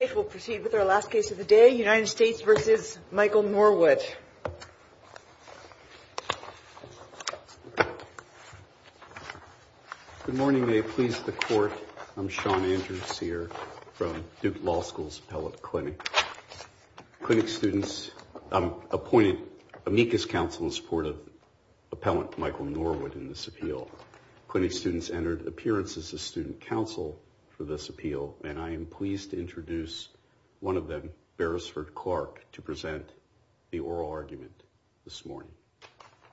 Good morning, may it please the Court, I'm Sean Andrews, here from Duke Law School's Appellate Clinic. Clinic students appointed amicus counsel in support of Appellant Michael Norwood in this appeal. Clinic students entered appearance as a student counsel for this appeal, and I am pleased to introduce one of them, Beresford Clark, to present the oral argument this morning.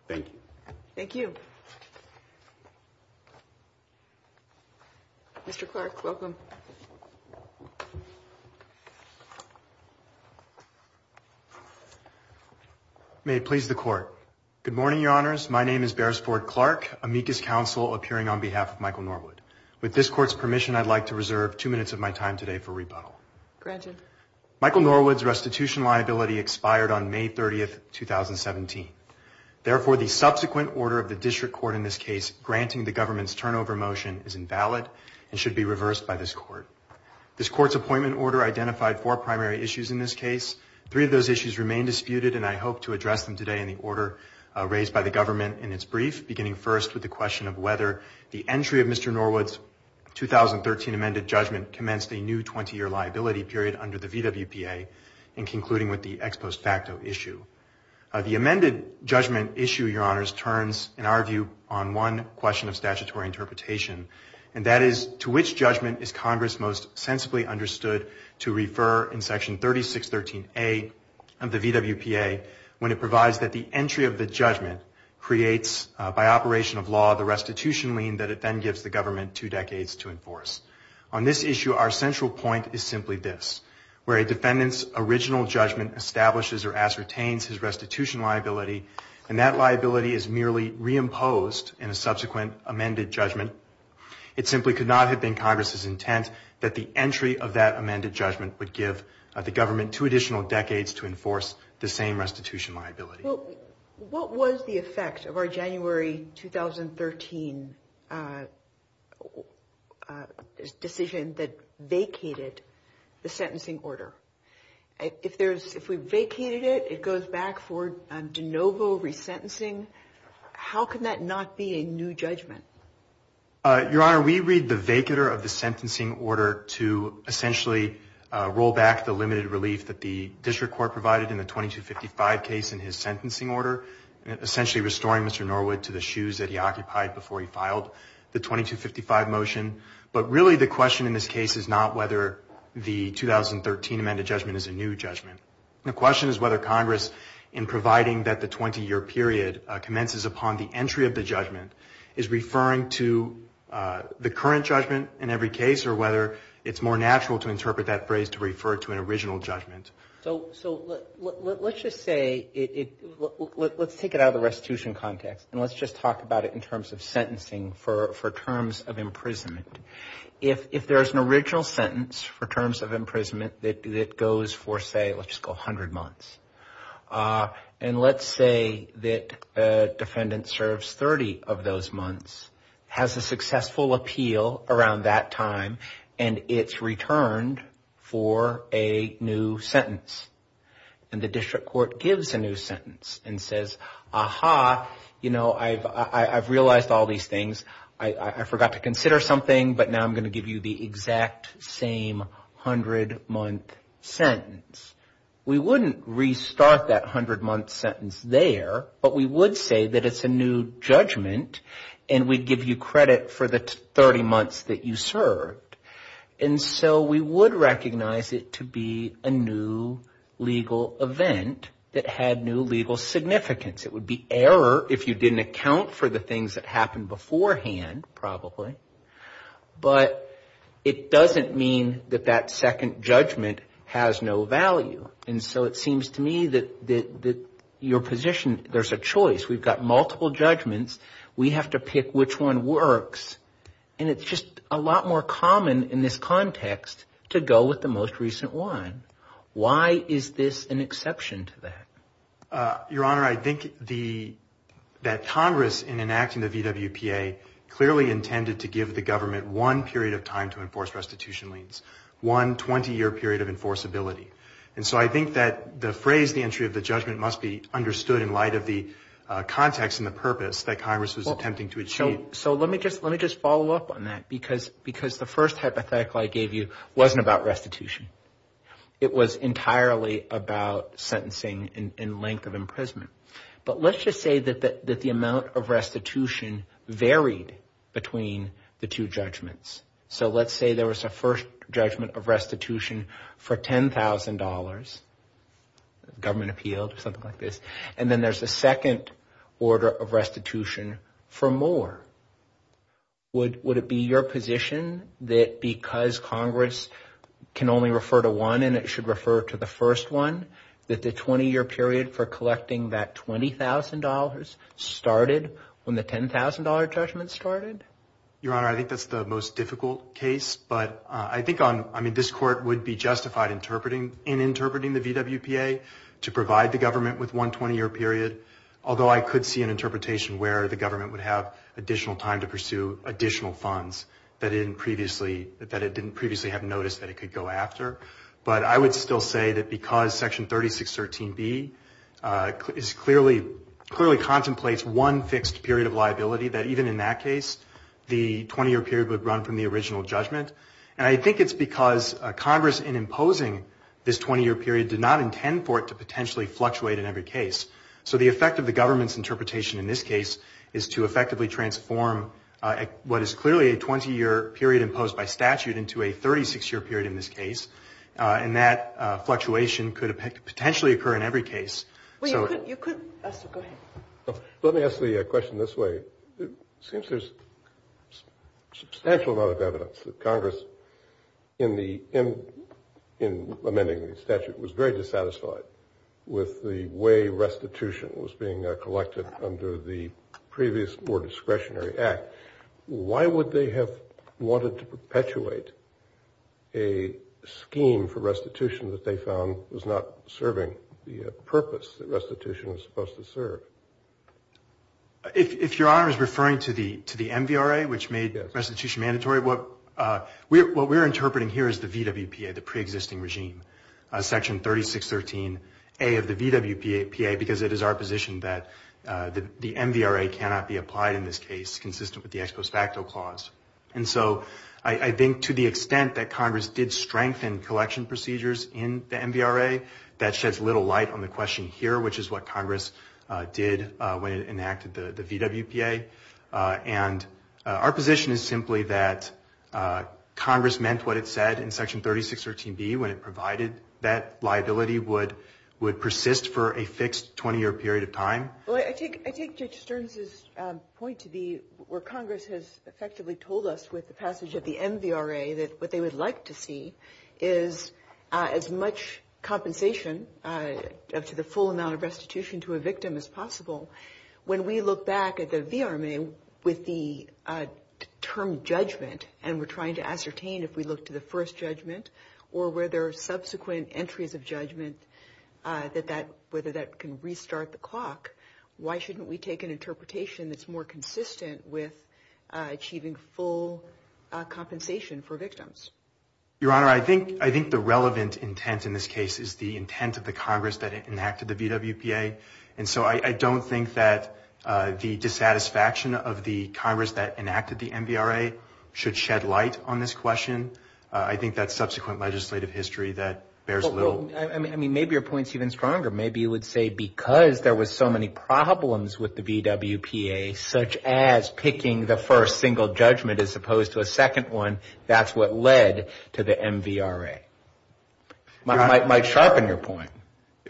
Thank you. Thank you. Mr. Clark, welcome. May it please the Court, good morning, Your Honors, my name is Beresford Clark, amicus counsel appearing on behalf of Michael Norwood. With this Court's permission, I'd like to reserve two minutes of my time today for rebuttal. Granted. Michael Norwood's restitution liability expired on May 30th, 2017, therefore the subsequent order of the District Court in this case granting the government's turnover motion is invalid and should be reversed by this Court. This Court's appointment order identified four primary issues in this case, three of those issues remain disputed, and I hope to address them today in the order raised by the government in its brief, beginning first with the question of whether the entry of Mr. Norwood's 2013 amended judgment commenced a new 20-year liability period under the VWPA in concluding with the ex post facto issue. The amended judgment issue, Your Honors, turns, in our view, on one question of statutory interpretation, and that is, to which judgment is Congress most sensibly understood to refer in section 3613A of the VWPA when it provides that the entry of the judgment creates by the government two decades to enforce. On this issue, our central point is simply this, where a defendant's original judgment establishes or ascertains his restitution liability, and that liability is merely reimposed in a subsequent amended judgment, it simply could not have been Congress's intent that the entry of that amended judgment would give the government two additional decades to enforce the same restitution liability. Well, what was the effect of our January 2013 decision that vacated the sentencing order? If we vacated it, it goes back for de novo resentencing, how can that not be a new judgment? Your Honor, we read the vacater of the sentencing order to essentially roll back the limited relief that the district court provided in the 2255 case in his sentencing order, essentially restoring Mr. Norwood to the shoes that he occupied before he filed the 2255 motion, but really the question in this case is not whether the 2013 amended judgment is a new judgment. The question is whether Congress, in providing that the 20-year period commences upon the entry of the judgment, is referring to the current judgment in every case, or whether it's more natural to interpret that phrase to refer to an original judgment. So let's just say, let's take it out of the restitution context and let's just talk about it in terms of sentencing for terms of imprisonment. If there is an original sentence for terms of imprisonment that goes for, say, let's just go 100 months, and let's say that a defendant serves 30 of those months, has a successful appeal around that time, and it's returned for a new sentence, and the district court gives a new sentence and says, aha, you know, I've realized all these things, I forgot to consider something, but now I'm going to give you the exact same 100-month sentence. We wouldn't restart that 100-month sentence there, but we would say that it's a new judgment, and we'd give you credit for the 30 months that you served. And so we would recognize it to be a new legal event that had new legal significance. It would be error if you didn't account for the things that happened beforehand, probably, but it doesn't mean that that second judgment has no value. And so it seems to me that your position, there's a choice. We've got multiple judgments. We have to pick which one works, and it's just a lot more common in this context to go with the most recent one. Why is this an exception to that? Your Honor, I think that Congress, in enacting the VWPA, clearly intended to give the government one period of time to enforce restitution liens, one 20-year period of enforceability. And so I think that the phrase, the entry of the judgment, must be understood in light of the context and the purpose that Congress was attempting to achieve. So let me just follow up on that, because the first hypothetical I gave you wasn't about restitution. It was entirely about sentencing and length of imprisonment. But let's just say that the amount of restitution varied between the two judgments. So let's say there was a first judgment of restitution for $10,000, government appealed to something like this. And then there's a second order of restitution for more. Would it be your position that because Congress can only refer to one, and it should refer to the first one, that the 20-year period for collecting that $20,000 started when the $10,000 judgment started? Your Honor, I think that's the most difficult case. But I think this Court would be justified in interpreting the VWPA to provide the government with one 20-year period, although I could see an interpretation where the government would have additional time to pursue additional funds that it didn't previously have noticed that it could go after. But I would still say that because Section 3613B clearly contemplates one fixed period of liability, that even in that case, the 20-year period would run from the original judgment. And I think it's because Congress, in imposing this 20-year period, did not intend for it to potentially fluctuate in every case. So the effect of the government's interpretation in this case is to effectively transform what is clearly a 20-year period imposed by statute into a 36-year period in this case. And that fluctuation could potentially occur in every case. Well, you could... Go ahead. Let me ask the question this way. It seems there's a substantial amount of evidence that Congress, in amending the statute, was very dissatisfied with the way restitution was being collected under the previous more discretionary act. Why would they have wanted to perpetuate a scheme for restitution that they found was not serving the purpose that restitution was supposed to serve? If Your Honor is referring to the MVRA, which made restitution mandatory, what we're interpreting here is the VWPA, the pre-existing regime, Section 3613A of the VWPA, because it is our position that the MVRA cannot be applied in this case consistent with the ex post facto clause. And so I think to the extent that Congress did strengthen collection procedures in the MVRA, that sheds little light on the question here, which is what Congress did when it enacted the VWPA. And our position is simply that Congress meant what it said in Section 3613B when it provided that liability would persist for a fixed 20-year period of time. Well, I think Judge Stearns' point to the – where Congress has effectively told us with the passage of the MVRA that what they would like to see is as much compensation up to the full amount of restitution to a victim as possible. When we look back at the VRMA with the term judgment, and we're trying to ascertain if we look to the first judgment or whether subsequent entries of judgment that that – whether that can restart the clock, why shouldn't we take an interpretation that's more consistent with achieving full compensation for victims? Your Honor, I think – I think the relevant intent in this case is the intent of the Congress that enacted the VWPA. And so I don't think that the dissatisfaction of the Congress that enacted the MVRA should shed light on this question. I think that subsequent legislative history that bears little – I mean, maybe your point's even stronger. Maybe you would say because there was so many problems with the VWPA, such as picking the first single judgment as opposed to a second one, that's what led to the MVRA. It might sharpen your point.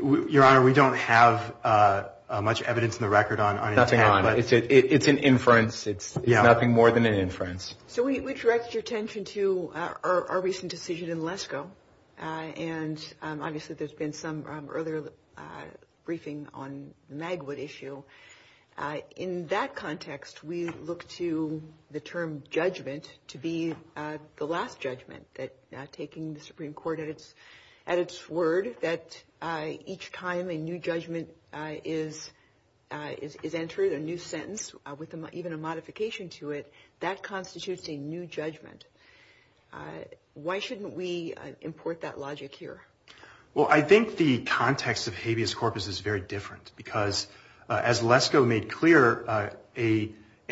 Your Honor, we don't have much evidence in the record on – Nothing on it. It's an inference. Yeah. It's nothing more than an inference. So we direct your attention to our recent decision in LESCO. And obviously, there's been some earlier briefing on the Magwood issue. In that context, we look to the term judgment to be the last judgment, that taking the Supreme Court at its word that each time a new judgment is entered, a new sentence with even a modification to it, that constitutes a new judgment. Why shouldn't we import that logic here? Well, I think the context of habeas corpus is very different because, as LESCO made clear,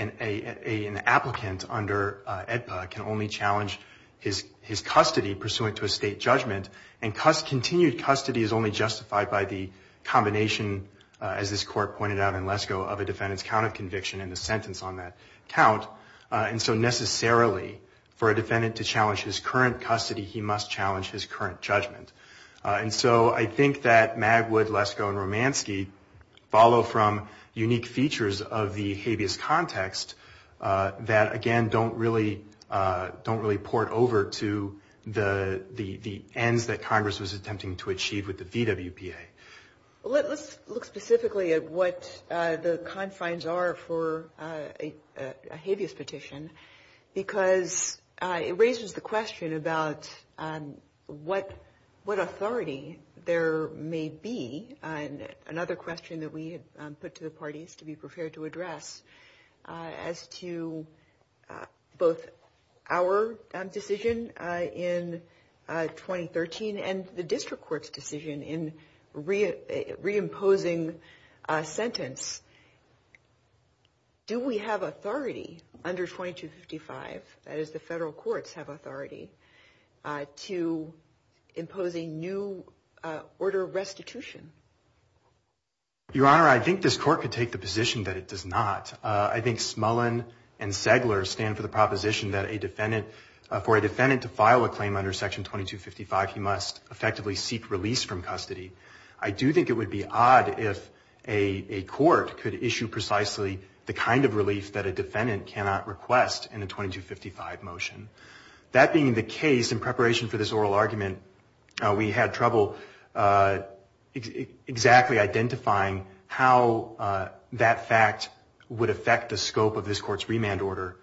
an applicant under AEDPA can only challenge his custody pursuant to a state judgment. And continued custody is only justified by the combination, as this Court pointed out in LESCO, of a defendant's count of conviction and the sentence on that count. And so necessarily, for a defendant to challenge his current custody, he must challenge his current judgment. And so I think that Magwood, LESCO, and Romanski follow from unique features of the habeas context that, again, don't really port over to the ends that Congress was attempting to achieve with the DWPA. Let's look specifically at what the confines are for a habeas petition because it raises the question about what authority there may be. Another question that we put to the parties to be prepared to address as to both our decision in 2013 and the District Court's decision in reimposing a sentence, do we have authority under 2255, that is the federal courts have authority, to impose a new order of restitution? Your Honor, I think this Court could take the position that it does not. I think Smullen and Segler stand for the proposition that for a defendant to file a claim under Section 2255, he must effectively seek release from custody. I do think it would be odd if a court could issue precisely the kind of release that a defendant cannot request in a 2255 motion. That being the case, in preparation for this oral argument, we had trouble exactly identifying how that fact would affect the scope of this Court's remand order,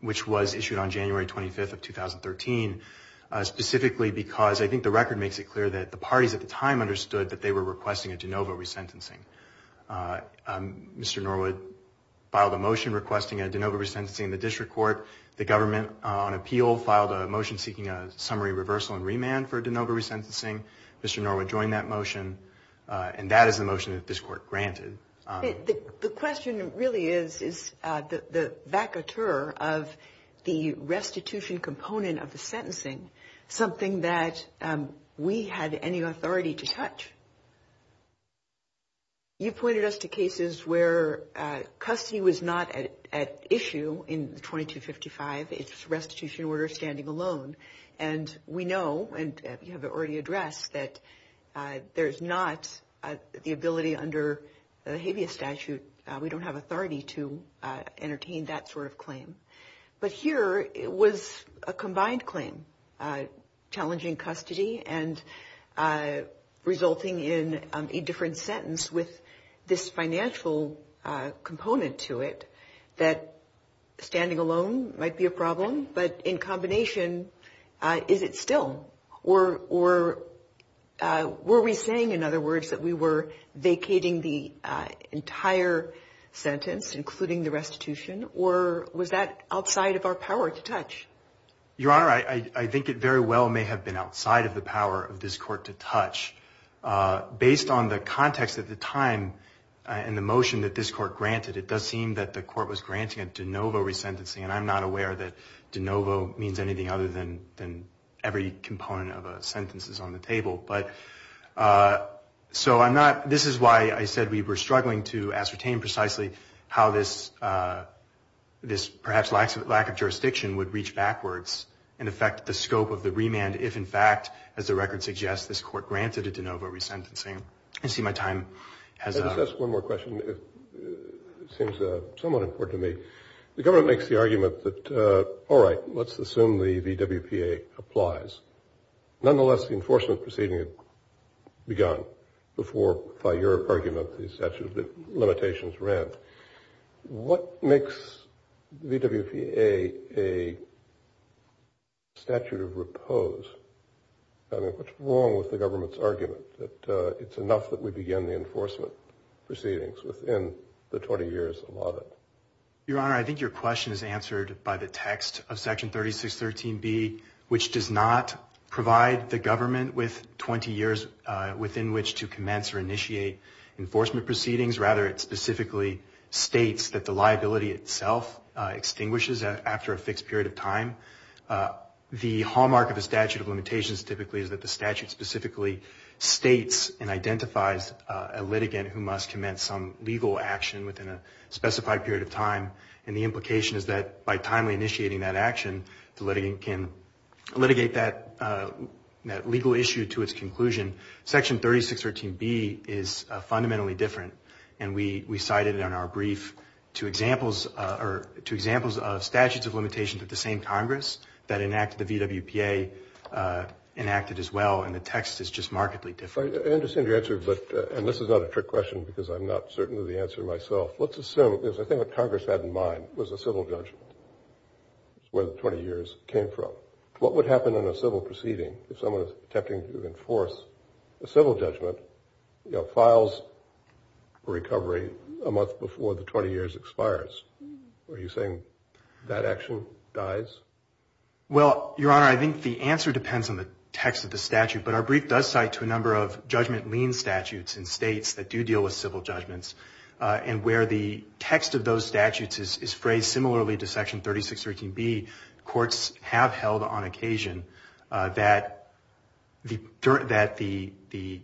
which was issued on January 25th of 2013, specifically because I think the record makes it clear that the parties at the time understood that they were requesting a de novo resentencing. Mr. Norwood filed a motion requesting a de novo resentencing in the District Court. The government, on appeal, filed a motion seeking a summary reversal and remand for the motion that this Court granted. The question really is the vacateur of the restitution component of the sentencing, something that we had any authority to touch. You pointed us to cases where custody was not at issue in 2255, it's restitution order standing alone, and we know, and you have already addressed, that there's not the ability under the habeas statute, we don't have authority to entertain that sort of claim. But here, it was a combined claim, challenging custody and resulting in a different sentence with this financial component to it, that standing alone might be a problem, but in combination, is it still, or were we saying, in other words, that we were vacating custody vacating the entire sentence, including the restitution, or was that outside of our power to touch? Your Honor, I think it very well may have been outside of the power of this Court to touch. Based on the context of the time and the motion that this Court granted, it does seem that the Court was granting a de novo resentencing, and I'm not aware that de novo means anything other than every component of a sentence is on the table. But, so I'm not, this is why I said we were struggling to ascertain precisely how this perhaps lack of jurisdiction would reach backwards and affect the scope of the remand, if in fact, as the record suggests, this Court granted a de novo resentencing. I see my time has run out. Let me just ask one more question, it seems somewhat important to me. The government makes the argument that, all right, let's assume the WPA applies, nonetheless the enforcement proceeding had begun before, by your argument, the statute of limitations ran. What makes the WPA a statute of repose? I mean, what's wrong with the government's argument that it's enough that we begin the enforcement proceedings within the 20 years allotted? Your Honor, I think your question is answered by the text of Section 3613B, which does not provide the government with 20 years within which to commence or initiate enforcement proceedings, rather it specifically states that the liability itself extinguishes after a fixed period of time. The hallmark of the statute of limitations typically is that the statute specifically states and identifies a litigant who must commence some legal action within a specified period of time, and the implication is that by timely initiating that action, the litigant can litigate that legal issue to its conclusion. Section 3613B is fundamentally different, and we cited it on our brief to examples of statutes of limitations at the same Congress that enacted the VWPA, enacted as well, and the text is just markedly different. I understand your answer, but, and this is not a trick question because I'm not certain of the answer myself, let's assume, because I think what Congress had in mind was a civil judgment, where the 20 years came from. What would happen in a civil proceeding if someone was attempting to enforce a civil judgment, you know, files for recovery a month before the 20 years expires? Are you saying that action dies? Well, Your Honor, I think the answer depends on the text of the statute, but our brief does cite to a number of judgment lien statutes in states that do deal with civil judgments, and where the text of those statutes is phrased similarly to Section 3613B, courts have held on occasion that the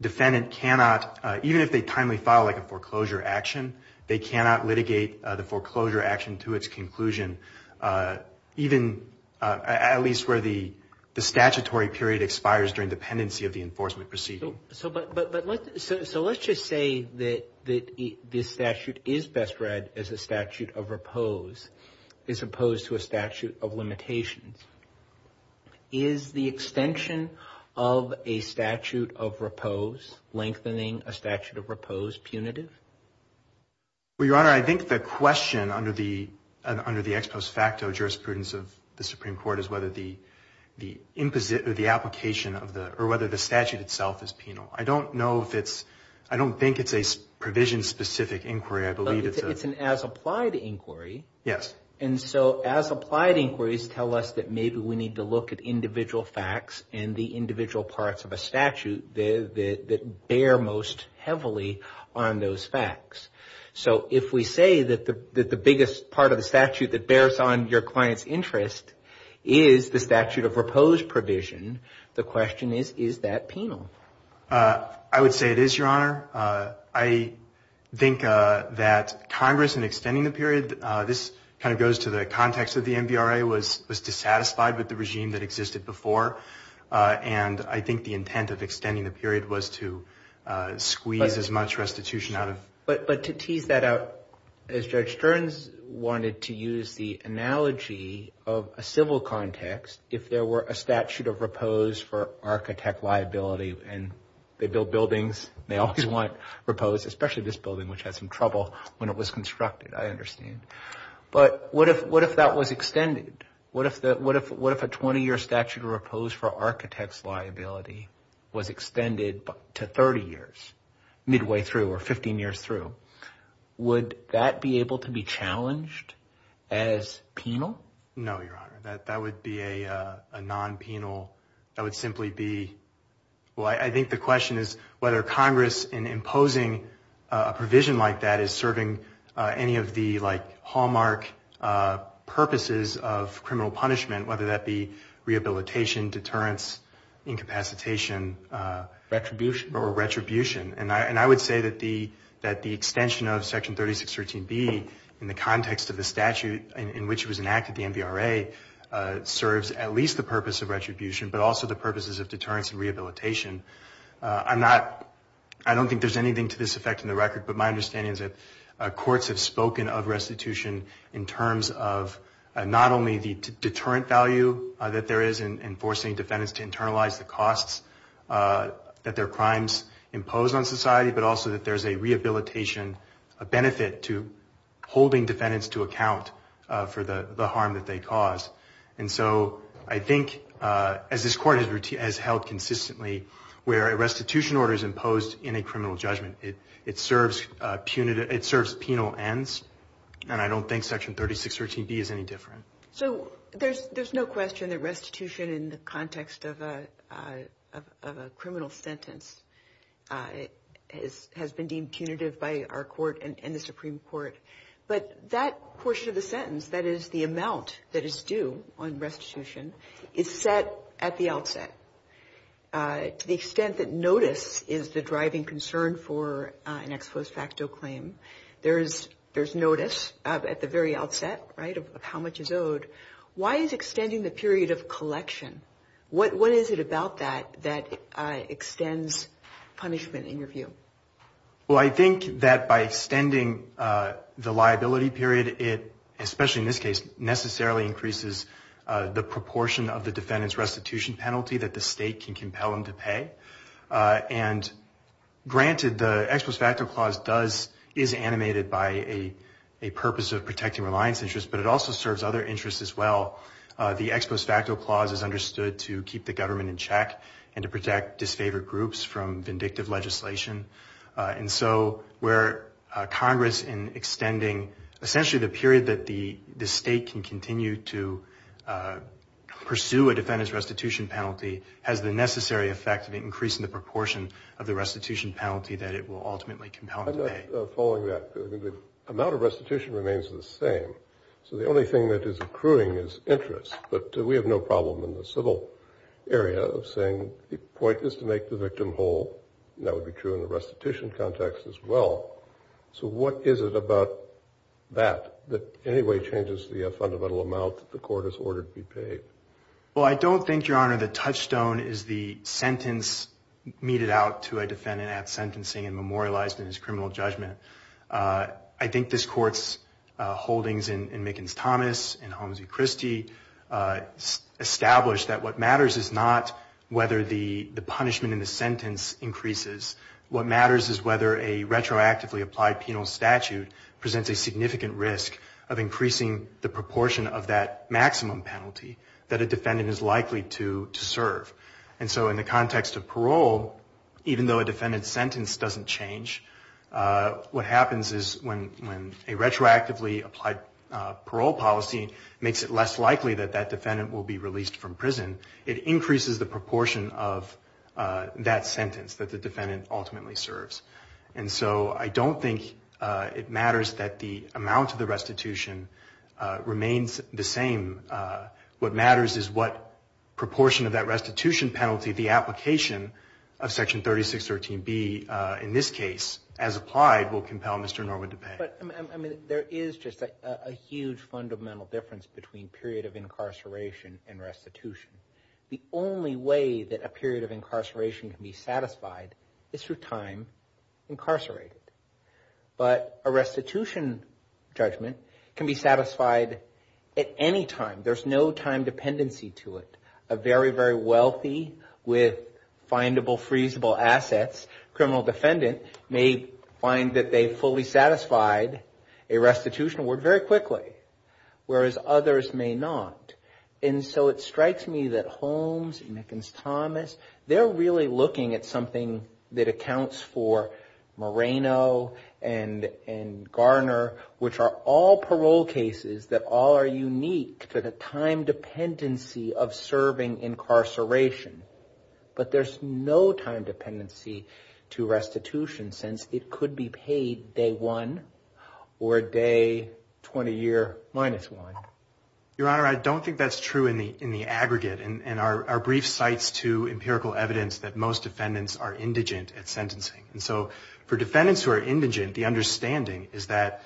defendant cannot, even if they timely file a foreclosure action, they cannot litigate the foreclosure action to its conclusion, even at least where the statutory period expires during the pendency of the enforcement proceeding. So, but let's, so let's just say that this statute is best read as a statute of repose, as opposed to a statute of limitations. Is the extension of a statute of repose, lengthening a statute of repose, punitive? Well, Your Honor, I think the question under the ex post facto jurisprudence of the Supreme Court is whether the application of the, or whether the statute itself is penal. I don't know if it's, I don't think it's a provision specific inquiry. I believe it's a... It's an as applied inquiry. Yes. And so, as applied inquiries tell us that maybe we need to look at individual facts and the individual parts of a statute that bear most heavily on those facts. So, if we say that the biggest part of the statute that bears on your client's interest is the statute of repose provision, the question is, is that penal? I would say it is, Your Honor. I think that Congress in extending the period, this kind of goes to the context of the MBRA, was dissatisfied with the regime that existed before. And I think the intent of extending the period was to squeeze as much restitution out of... But to tease that out, as Judge Stearns wanted to use the analogy of a civil context, if there were a statute of repose for architect liability and they build buildings, they always want repose, especially this building, which had some trouble when it was constructed, I understand. But what if that was extended? What if a 20-year statute of repose for architect's liability was extended to 30 years, midway through or 15 years through? Would that be able to be challenged as penal? No, Your Honor. That would be a non-penal... That would simply be... Well, I think the question is whether Congress in imposing a provision like that is serving any of the hallmark purposes of criminal punishment, whether that be rehabilitation, deterrence, incapacitation, or retribution. And I would say that the extension of Section 3613B in the context of the statute in which it was enacted, the MBRA, serves at least the purpose of retribution, but also the purposes of deterrence and rehabilitation. I don't think there's anything to this effect in the record, but my understanding is that courts have spoken of restitution in terms of not only the deterrent value that there is in enforcing defendants to internalize the costs that their crimes impose on society, but also that there's a rehabilitation, a benefit to holding defendants to account for the harm that they cause. And so I think, as this Court has held consistently, where a restitution order is imposed in a criminal judgment, it serves penal ends. And I don't think Section 3613B is any different. So there's no question that restitution in the context of a criminal sentence has been deemed punitive by our Court and the Supreme Court. But that portion of the sentence, that is the amount that is due on restitution, is set at the outset. To the extent that notice is the driving concern for an ex post facto claim, there's notice at the very outset of how much is owed. Why is extending the period of collection? What is it about that that extends punishment in your view? Well, I think that by extending the liability period, it, especially in this case, necessarily increases the proportion of the defendant's restitution penalty that the state can compel them to pay. And granted, the ex post facto clause does, is animated by a purpose of protecting reliance interests, but it also serves other interests as well. The ex post facto clause is understood to keep the government in check and to protect disfavored groups from vindictive legislation. And so where Congress in extending, essentially, the period that the state can continue to pursue a defendant's restitution penalty has the necessary effect of increasing the proportion of the restitution penalty that it will ultimately compel them to pay. I'm not following that. The amount of restitution remains the same. So the only thing that is accruing is interest, but we have no problem in the civil area of saying the point is to make the victim whole. That would be true in the restitution context as well. So what is it about that, that anyway changes the fundamental amount that the court is ordered to be paid? Well, I don't think, Your Honor, the touchstone is the sentence meted out to a defendant at sentencing and memorialized in his criminal judgment. I think this court's holdings in Mickens-Thomas and Holmes v. Christie established that what matters is not whether the punishment in the sentence increases. What matters is whether a retroactively applied penal statute presents a significant risk of increasing the proportion of that maximum penalty. A defendant is likely to serve. In the context of parole, even though a defendant's sentence doesn't change, what happens is when a retroactively applied parole policy makes it less likely that that defendant will be released from prison, it increases the proportion of that sentence that the defendant ultimately serves. I don't think it matters that the amount of the restitution remains the same. What matters is what proportion of that restitution penalty the application of Section 3613B in this case, as applied, will compel Mr. Norwood to pay. But, I mean, there is just a huge fundamental difference between period of incarceration and restitution. The only way that a period of incarceration can be satisfied is through time incarcerated. But a restitution judgment can be satisfied at any time. There's no time dependency to it. A very, very wealthy with findable, freezable assets criminal defendant may find that they fully satisfied a restitution award very quickly, whereas others may not. And so it strikes me that Holmes and Mickens-Thomas, they're really looking at something that accounts for Moreno and Garner, which are all parole cases that all are unique to the time dependency of serving incarceration. But there's no time dependency to restitution, since it could be paid day one or day 20 year minus one. Your Honor, I don't think that's true in the aggregate. And our brief cites to empirical evidence that most defendants are indigent at sentencing. And so for defendants who are indigent, the understanding is that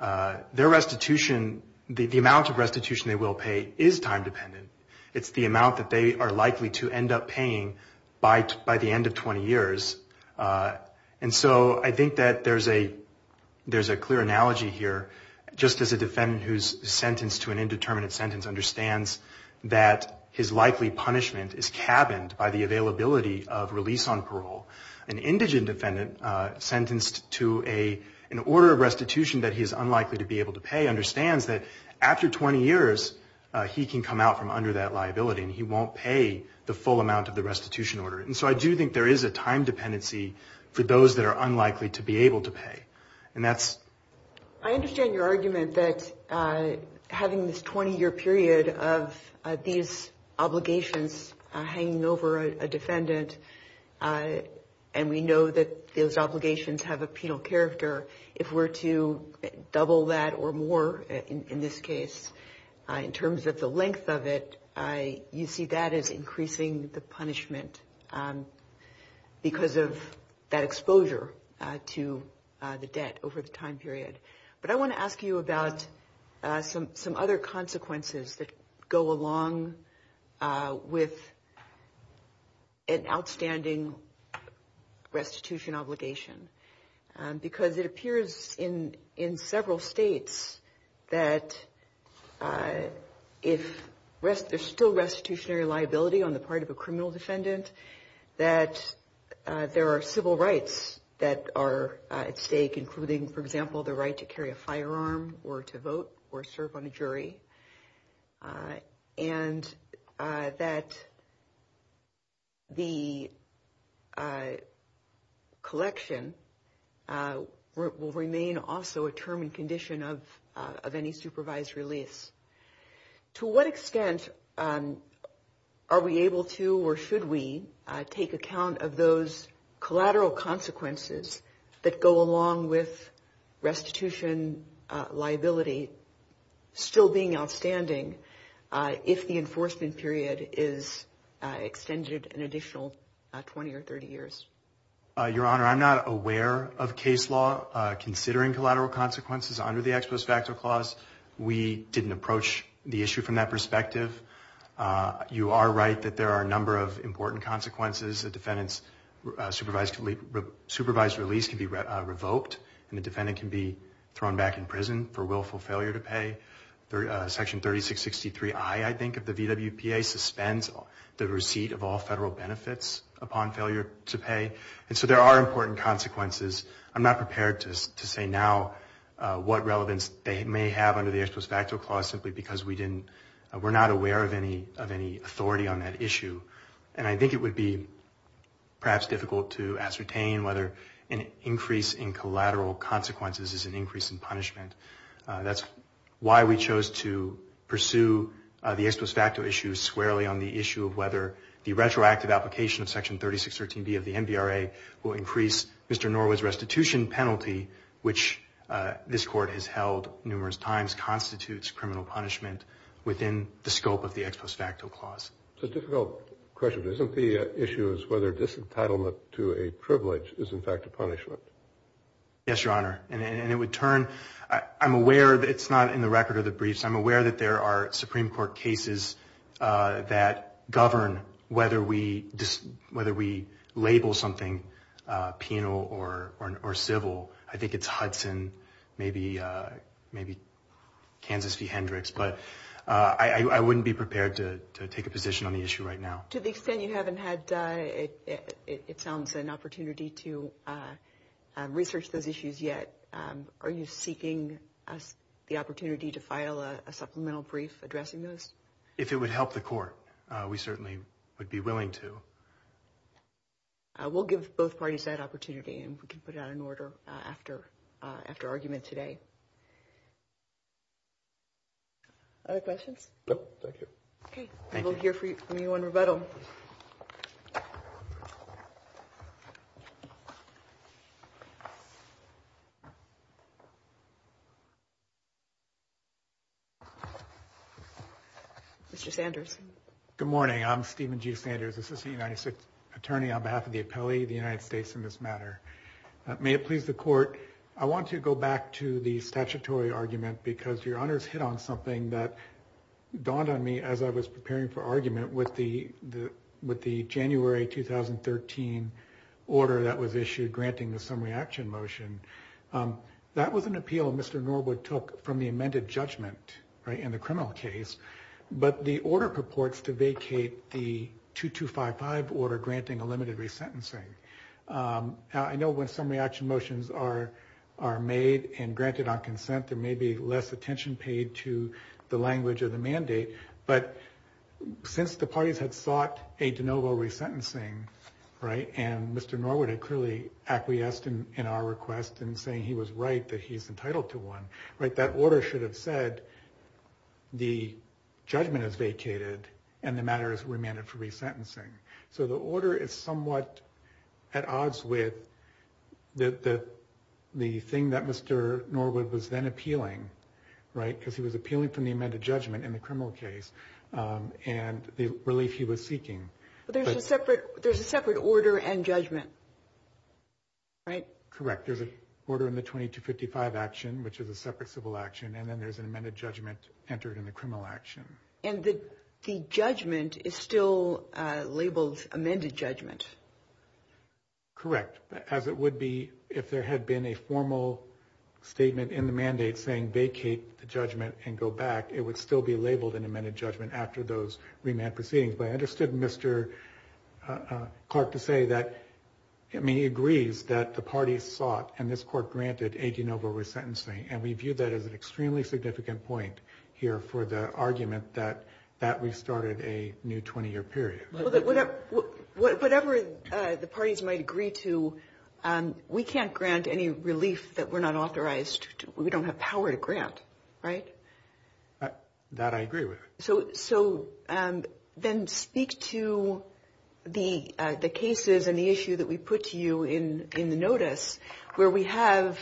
their restitution, the amount of restitution they will pay is time dependent. It's the amount that they are likely to end up paying by the end of 20 years. And so I think that there's a clear analogy here, just as a defendant who's sentenced to an indeterminate sentence understands that his likely punishment is cabined by the availability of release on parole, an indigent defendant sentenced to an order of restitution that he is unlikely to be able to pay understands that after 20 years, he can come out from under that liability and he won't pay the full amount of the restitution order. And so I do think there is a time dependency for those that are unlikely to be able to pay. And that's... I understand your argument that having this 20 year period of these obligations hanging over a defendant, and we know that those obligations have a penal character, if we're to double that or more in this case, in terms of the length of it, you see that as increasing the punishment because of that exposure to the debt over the time period. But I want to ask you about some other consequences that go along with an outstanding restitution obligation. Because it appears in several states that if there's still restitutionary liability on the part of a criminal defendant, that there are civil rights that are at stake, including, for example, the right to carry a firearm or to vote or serve on a jury. And that the collection will remain also a term and condition of any supervised release. To what extent are we able to or should we take account of those collateral consequences that go along with restitution liability still being outstanding if the enforcement period is extended an additional 20 or 30 years? Your Honor, I'm not aware of case law considering collateral consequences under the Exposed Factor Clause. We didn't approach the issue from that perspective. You are right that there are a number of important consequences the defendant's supervised release can be revoked and the defendant can be thrown back in prison for willful failure to pay. Section 3663I, I think, of the VWPA suspends the receipt of all federal benefits upon failure to pay. And so there are important consequences. I'm not prepared to say now what relevance they may have under the Exposed Factor Clause simply because we're not aware of any authority on that issue. And I think it would be perhaps difficult to ascertain whether an increase in collateral consequences is an increase in punishment. That's why we chose to pursue the Exposed Factor Issue squarely on the issue of whether the retroactive application of Section 3613B of the MVRA will increase Mr. Norwood's restitution penalty, which this court has held numerous times, constitutes criminal punishment within the scope of the Exposed Factor Clause. It's a difficult question. Isn't the issue is whether disentitlement to a privilege is in fact a punishment? Yes, Your Honor. And it would turn, I'm aware that it's not in the record of the briefs. I'm aware that there are Supreme Court cases that govern whether we label something penal or civil. But I wouldn't be prepared to take a position on the issue right now. To the extent you haven't had, it sounds, an opportunity to research those issues yet, are you seeking the opportunity to file a supplemental brief addressing those? If it would help the court, we certainly would be willing to. We'll give both parties that opportunity and we can put it on order after argument today. Other questions? No, thank you. Okay, we'll hear from you on rebuttal. Mr. Sanders. Good morning. I'm Stephen G. Sanders, Assistant United States Attorney on behalf of the Appellee of the United States in this matter. May it please the court, I want to go back to the statutory argument because Your Honor's hit on something that dawned on me as I was preparing for argument with the January 2013 order that was issued granting the summary action motion. That was an appeal Mr. Norwood took from the amended judgment in the criminal case. But the order purports to vacate the 2255 order granting a limited resentencing. I know when summary action motions are made and granted on consent, there may be less attention paid to the language of the mandate, but since the parties had sought a de novo resentencing, right, and Mr. Norwood had clearly acquiesced in our request in saying he was right, that he is entitled to one, right, that order should have said the judgment is vacated and the matter is remanded for resentencing. So the order is somewhat at odds with the thing that Mr. Norwood was then appealing, right, because he was appealing from the amended judgment in the criminal case and the relief he was seeking. But there's a separate order and judgment, right? Correct. There's an order in the 2255 action, which is a separate civil action, and then there's an amended judgment entered in the criminal action. And the judgment is still labeled amended judgment. Correct. As it would be if there had been a formal statement in the mandate saying vacate the judgment and go back, it would still be labeled an amended judgment after those remand proceedings. But I understood Mr. Clark to say that, I mean, he agrees that the parties sought and this court granted a de novo resentencing, and we view that as an extremely significant point here for the argument that we started a new 20-year period. Whatever the parties might agree to, we can't grant any relief that we're not authorized, we don't have power to grant, right? That I agree with. So then speak to the cases and the issue that we put to you in the notice, where we have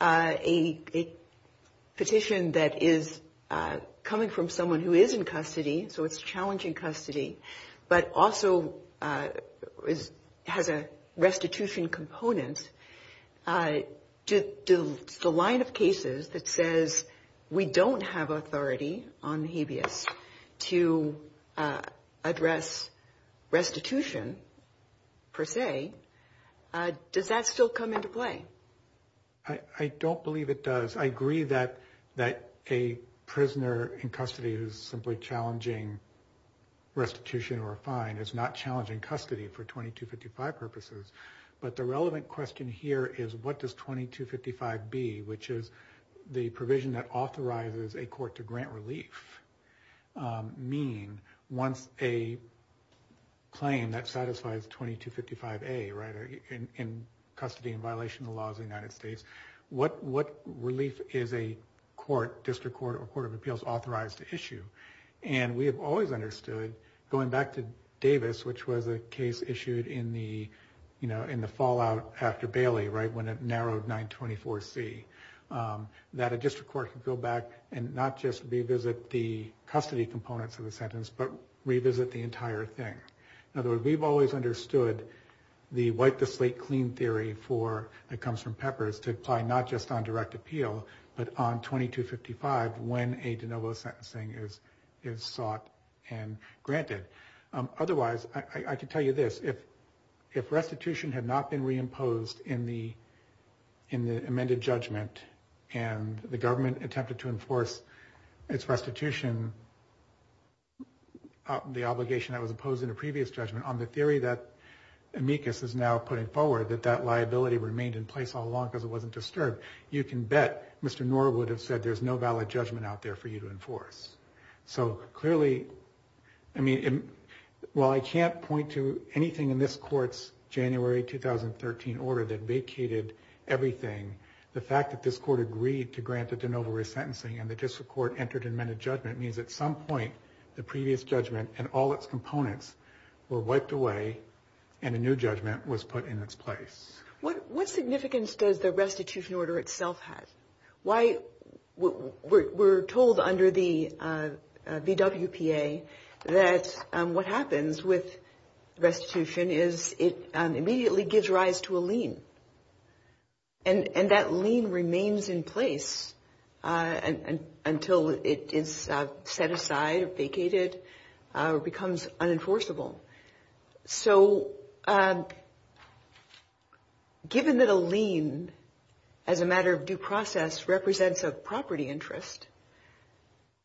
a petition that is coming from someone who is in custody, so it's challenging custody, but also has a restitution component. Does the line of cases that says we don't have authority on the habeas to address restitution per se, does that still come into play? I don't believe it does. I agree that a prisoner in custody is simply challenging restitution or a fine, it's not challenging custody for 2255 purposes. But the relevant question here is what does 2255 be, which is the provision that authorizes a court to grant relief. What does relief mean once a claim that satisfies 2255A, right, in custody in violation of the laws of the United States, what relief is a court, district court or court of appeals authorized to issue? And we have always understood, going back to Davis, which was a case issued in the, you know, in the fallout after Bailey, right, when it narrowed 924C, that a district court can go back and not just revisit the custody components of the sentence, but revisit the entire thing. In other words, we've always understood the wipe the slate clean theory for, it comes from Peppers, to apply not just on direct appeal, but on 2255 when a de novo sentencing is sought and granted. Otherwise, I can tell you this, if restitution had not been reimposed in the judgment and the government attempted to enforce its restitution, the obligation that was imposed in a previous judgment, on the theory that amicus is now putting forward, that that liability remained in place all along because it wasn't disturbed, you can bet Mr. Norwood would have said there's no valid judgment out there for you to enforce. So clearly, I mean, while I can't point to anything in this court's January 2013 order that vacated everything, the fact that this court agreed to grant the de novo resentencing and the district court entered an amended judgment means at some point, the previous judgment and all its components were wiped away and a new judgment was put in its place. What significance does the restitution order itself have? We're told under the VWPA that what happens with restitution is it immediately gives rise to a lien and that lien remains in place until it is set aside, vacated, or becomes unenforceable. So given that a lien, as a matter of due process, represents a property interest,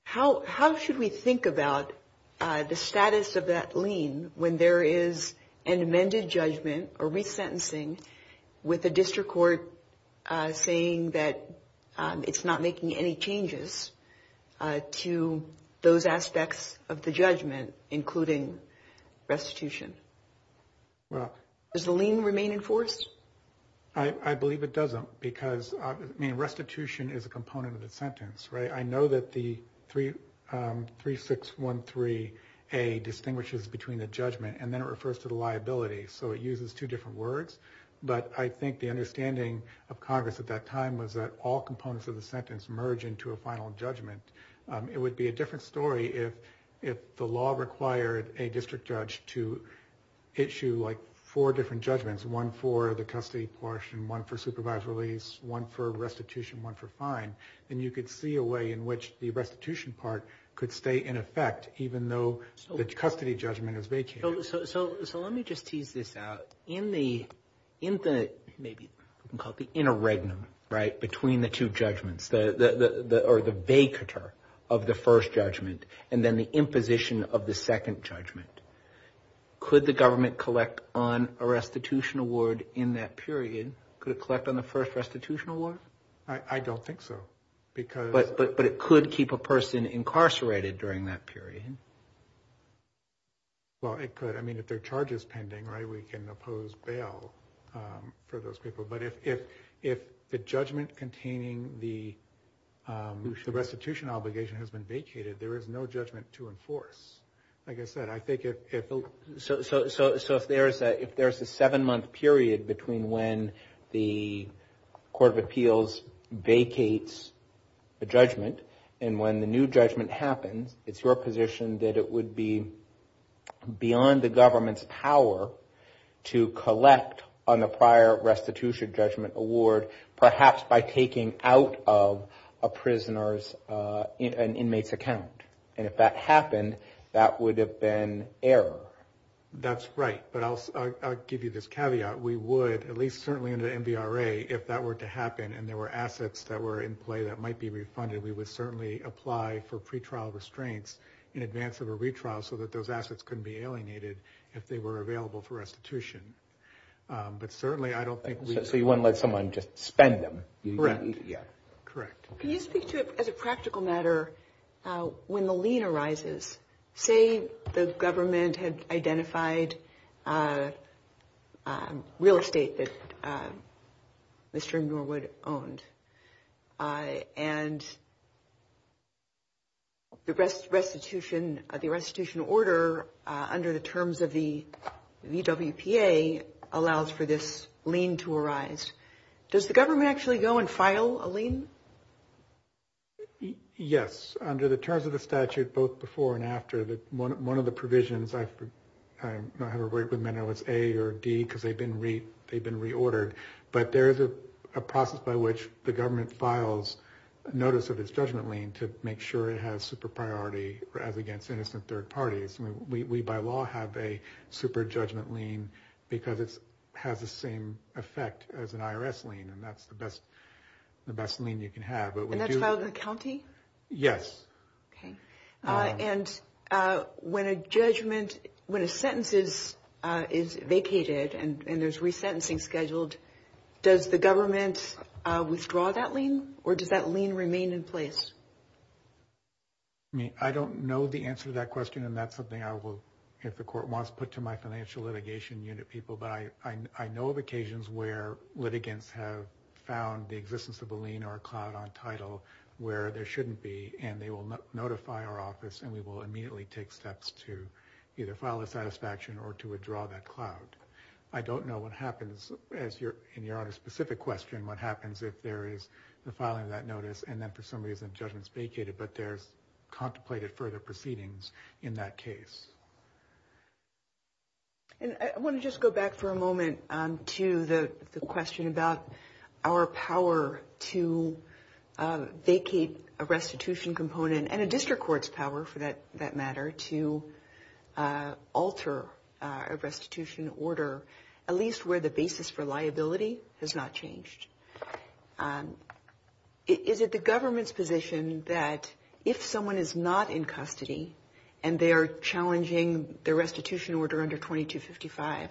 how should we think about the status of that lien when there is an amended judgment, a resentencing, with the district court saying that it's not making any changes to those aspects of the judgment, including restitution? Does the lien remain enforced? I believe it doesn't because restitution is a component of the sentence, right? I know that the 3613A distinguishes between the judgment and then it refers to the liability. So it uses two different words, but I think the understanding of Congress at that time was that all components of the sentence merge into a final judgment. It would be a different story if the law required a district judge to issue like four different judgments, one for the custody portion, one for supervised release, one for restitution, one for fine. And you could see a way in which the restitution part could stay in effect, even though the custody judgment is vacated. So let me just tease this out. In the interregnum, right, between the two judgments, or the vacatur of the first judgment and then the imposition of the second judgment, could the government collect on a restitution award in that period? Could it collect on the first restitution award? I don't think so. But it could keep a person incarcerated during that period. Well, it could. I mean, if there are charges pending, right, we can oppose bail for those people. But if the judgment containing the restitution obligation has been vacated, there is no judgment to enforce. Like I said, I think if... So if there's a seven-month period between when the Court of Appeals vacates the judgment and when the new judgment happens, it's your position that it would be beyond the government's power to collect on a prior restitution judgment award, perhaps by taking out of a prisoner's inmate's account. And if that happened, that would have been error. That's right. But I'll give you this caveat. We would, at least certainly in the NDRA, if that were to happen and there were assets that were in play that might be refunded, we would certainly apply for pretrial restraints in advance of a retrial so that those assets couldn't be alienated if they were available for restitution. But certainly, I don't think we... So you wouldn't let someone just spend them. Correct. Yeah. Correct. Can you speak to, as a practical matter, when the lien arises, say the government had identified real estate that Mr. Norwood owned and the restitution order under the terms of the VWPA allows for this lien to arise. Does the government actually go and file a lien? Yes. Under the terms of the statute, both before and after, one of the provisions, I don't have a record of whether it was A or D because they've been reordered, but there is a process by which the government files notice of its judgment lien to make sure it has super priority as against innocent third parties. We, by law, have a super judgment lien because it has the same effect as an IRS lien and that's the best lien you can have. And that's about the county? Yes. Okay. And when a judgment, when a sentence is vacated and there's resentencing scheduled, does the government withdraw that lien or does that lien remain in place? I don't know the answer to that question and that's something I will, if the court wants, put to my financial litigation unit people. But I know of occasions where litigants have found the existence of a lien or a cloud on title where there shouldn't be and they will notify our office and we will immediately take steps to either file a satisfaction or to withdraw that cloud. I don't know what happens, in your specific question, what happens if there is the filing of that notice and then for some reason judgment's vacated but there's contemplated further proceedings in that case. And I want to just go back for a moment to the question about our power to vacate a restitution component and a district court's power for that matter to alter a restitution order, at least where the basis for liability has not changed. Is it the government's position that if someone is not in custody and they are challenging the restitution order under 2255,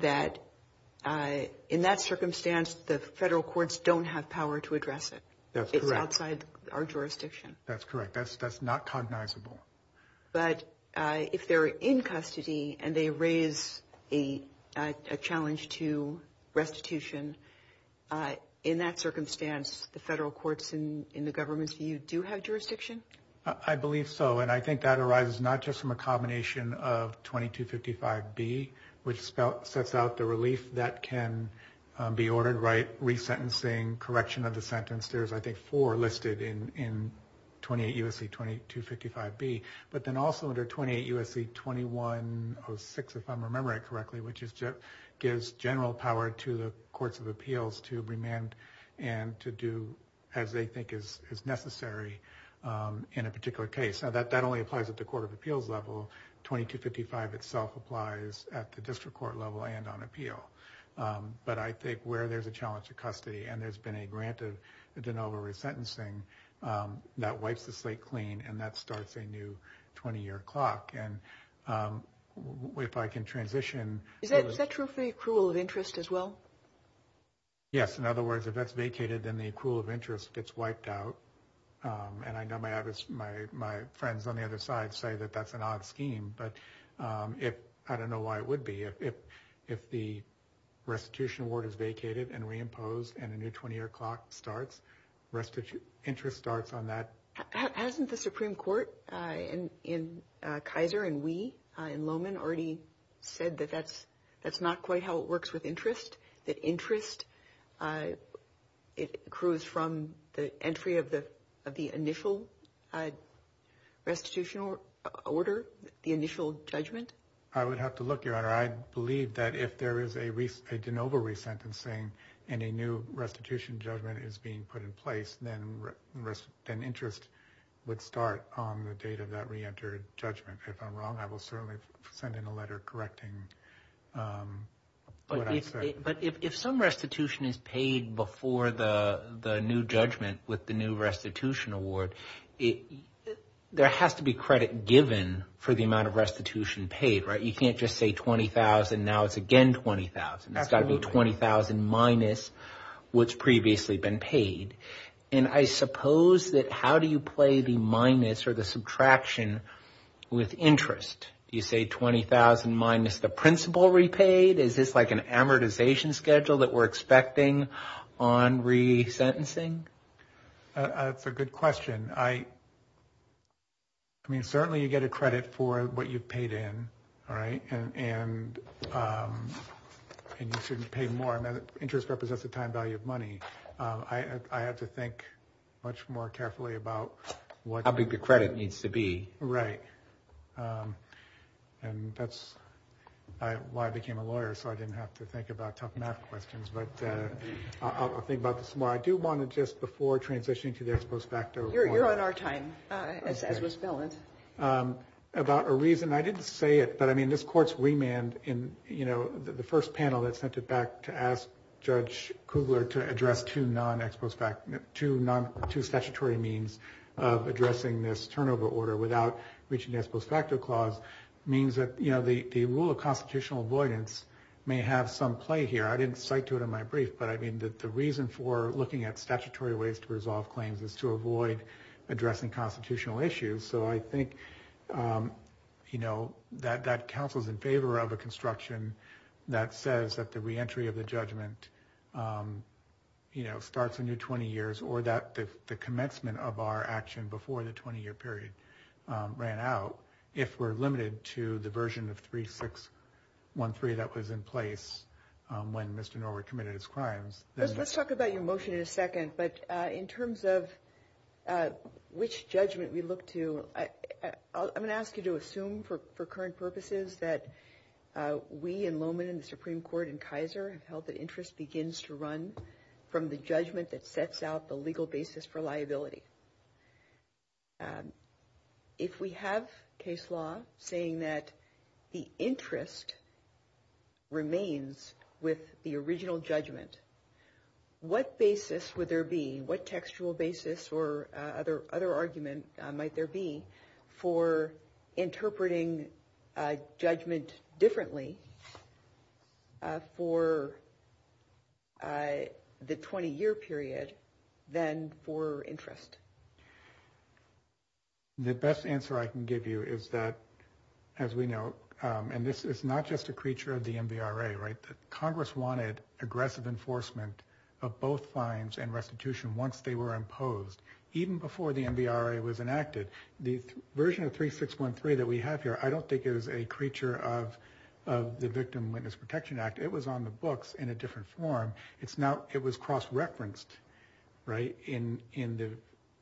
that in that circumstance the federal courts don't have power to address it? It's outside our jurisdiction. That's correct. That's not cognizable. But if they're in custody and they raise a challenge to restitution, in that circumstance the federal courts in the government, do you do have jurisdiction? I believe so. And I think that arises not just from a combination of 2255B, which sets out the relief that can be ordered, right, resentencing, correction of the sentence. There's I think four listed in 28 U.S.C. 2255B. But then also under 28 U.S.C. 2106, if I'm remembering correctly, which is gives general power to the courts of appeals to remand and to do as they think is necessary in a particular case. Now that only applies at the court of appeals level. 2255 itself applies at the district court level and on appeal. But I think where there's a challenge to custody and there's been a grant of de novo resentencing that wipes the slate clean and that starts a new 20-year clock. And if I can transition... Is that true for accrual of interest as well? Yes. In other words, if that's vacated, then the accrual of interest gets wiped out. And I know my friends on the other side say that that's an odd scheme. But I don't know why it would be. If the restitution award is vacated and reimposed and a new 20-year clock starts, interest starts on that. Hasn't the Supreme Court in Kaiser and Wee and Lohman already said that that's not quite how it works with interest? That interest accrues from the entry of the initial restitutional order, the initial judgment? I would have to look, Your Honor. I believe that if there is a de novo resentencing and a new restitution judgment is being put in place, then interest would start on the date of that reentered judgment. If I'm wrong, I will certainly send in a letter correcting what I said. But if some restitution is paid before the new judgment with the new restitution award, there has to be credit given for the amount of restitution paid, right? You can't just say $20,000. Now it's again $20,000. That's got to be $20,000 minus what's previously been paid. And I suppose that how do you play the minus or the subtraction with interest? Do you say $20,000 minus the principal repaid? Is this like an amortization schedule that we're expecting on resentencing? That's a good question. I mean, certainly you get a credit for what you've paid in, all right? And you shouldn't pay more. And interest represents the time value of money. I have to think much more carefully about what... How big the credit needs to be. Right. And that's why I became a lawyer. So I didn't have to think about tough math questions. But I'll think about this more. I do want to just before transitioning to the ex post facto... You're on our time, as we're still in. About a reason. I didn't say it, but I mean, this court's remand in, you know, the first panel that sent it back to ask Judge Kubler to address two non-ex post facto... Two statutory means of addressing this turnover order without reaching the ex post facto clause. Means that, you know, the rule of constitutional avoidance may have some play here. I didn't cite to it in my brief. But I mean, the reason for looking at statutory ways to resolve claims is to avoid addressing constitutional issues. So I think, you know, that counsel is in favor of a construction that says that the reentry of the judgment, you know, starts in your 20 years. Or that the commencement of our action before the 20-year period. Ran out if we're limited to the version of 3613 that was in place when Mr. Norwood committed his crimes. Let's talk about your motion in a second. But in terms of which judgment we look to, I'm going to ask you to assume for current purposes that we in Lowman and the Supreme Court and Kaiser have held that interest begins to run from the judgment that sets out the legal basis for liability. If we have case law saying that the interest remains with the original judgment, what basis would there be, what textual basis or other argument might there be for interpreting judgment differently for the 20-year period than for interest? The best answer I can give you is that, as we know, and this is not just a creature of the NBRA, right? The Congress wanted aggressive enforcement of both fines and restitution once they were imposed. Even before the NBRA was enacted, the version of 3613 that we have here, I don't think it was a creature of the Victim Witness Protection Act. It was on the books in a different form. It's not, it was cross-referenced, right? In the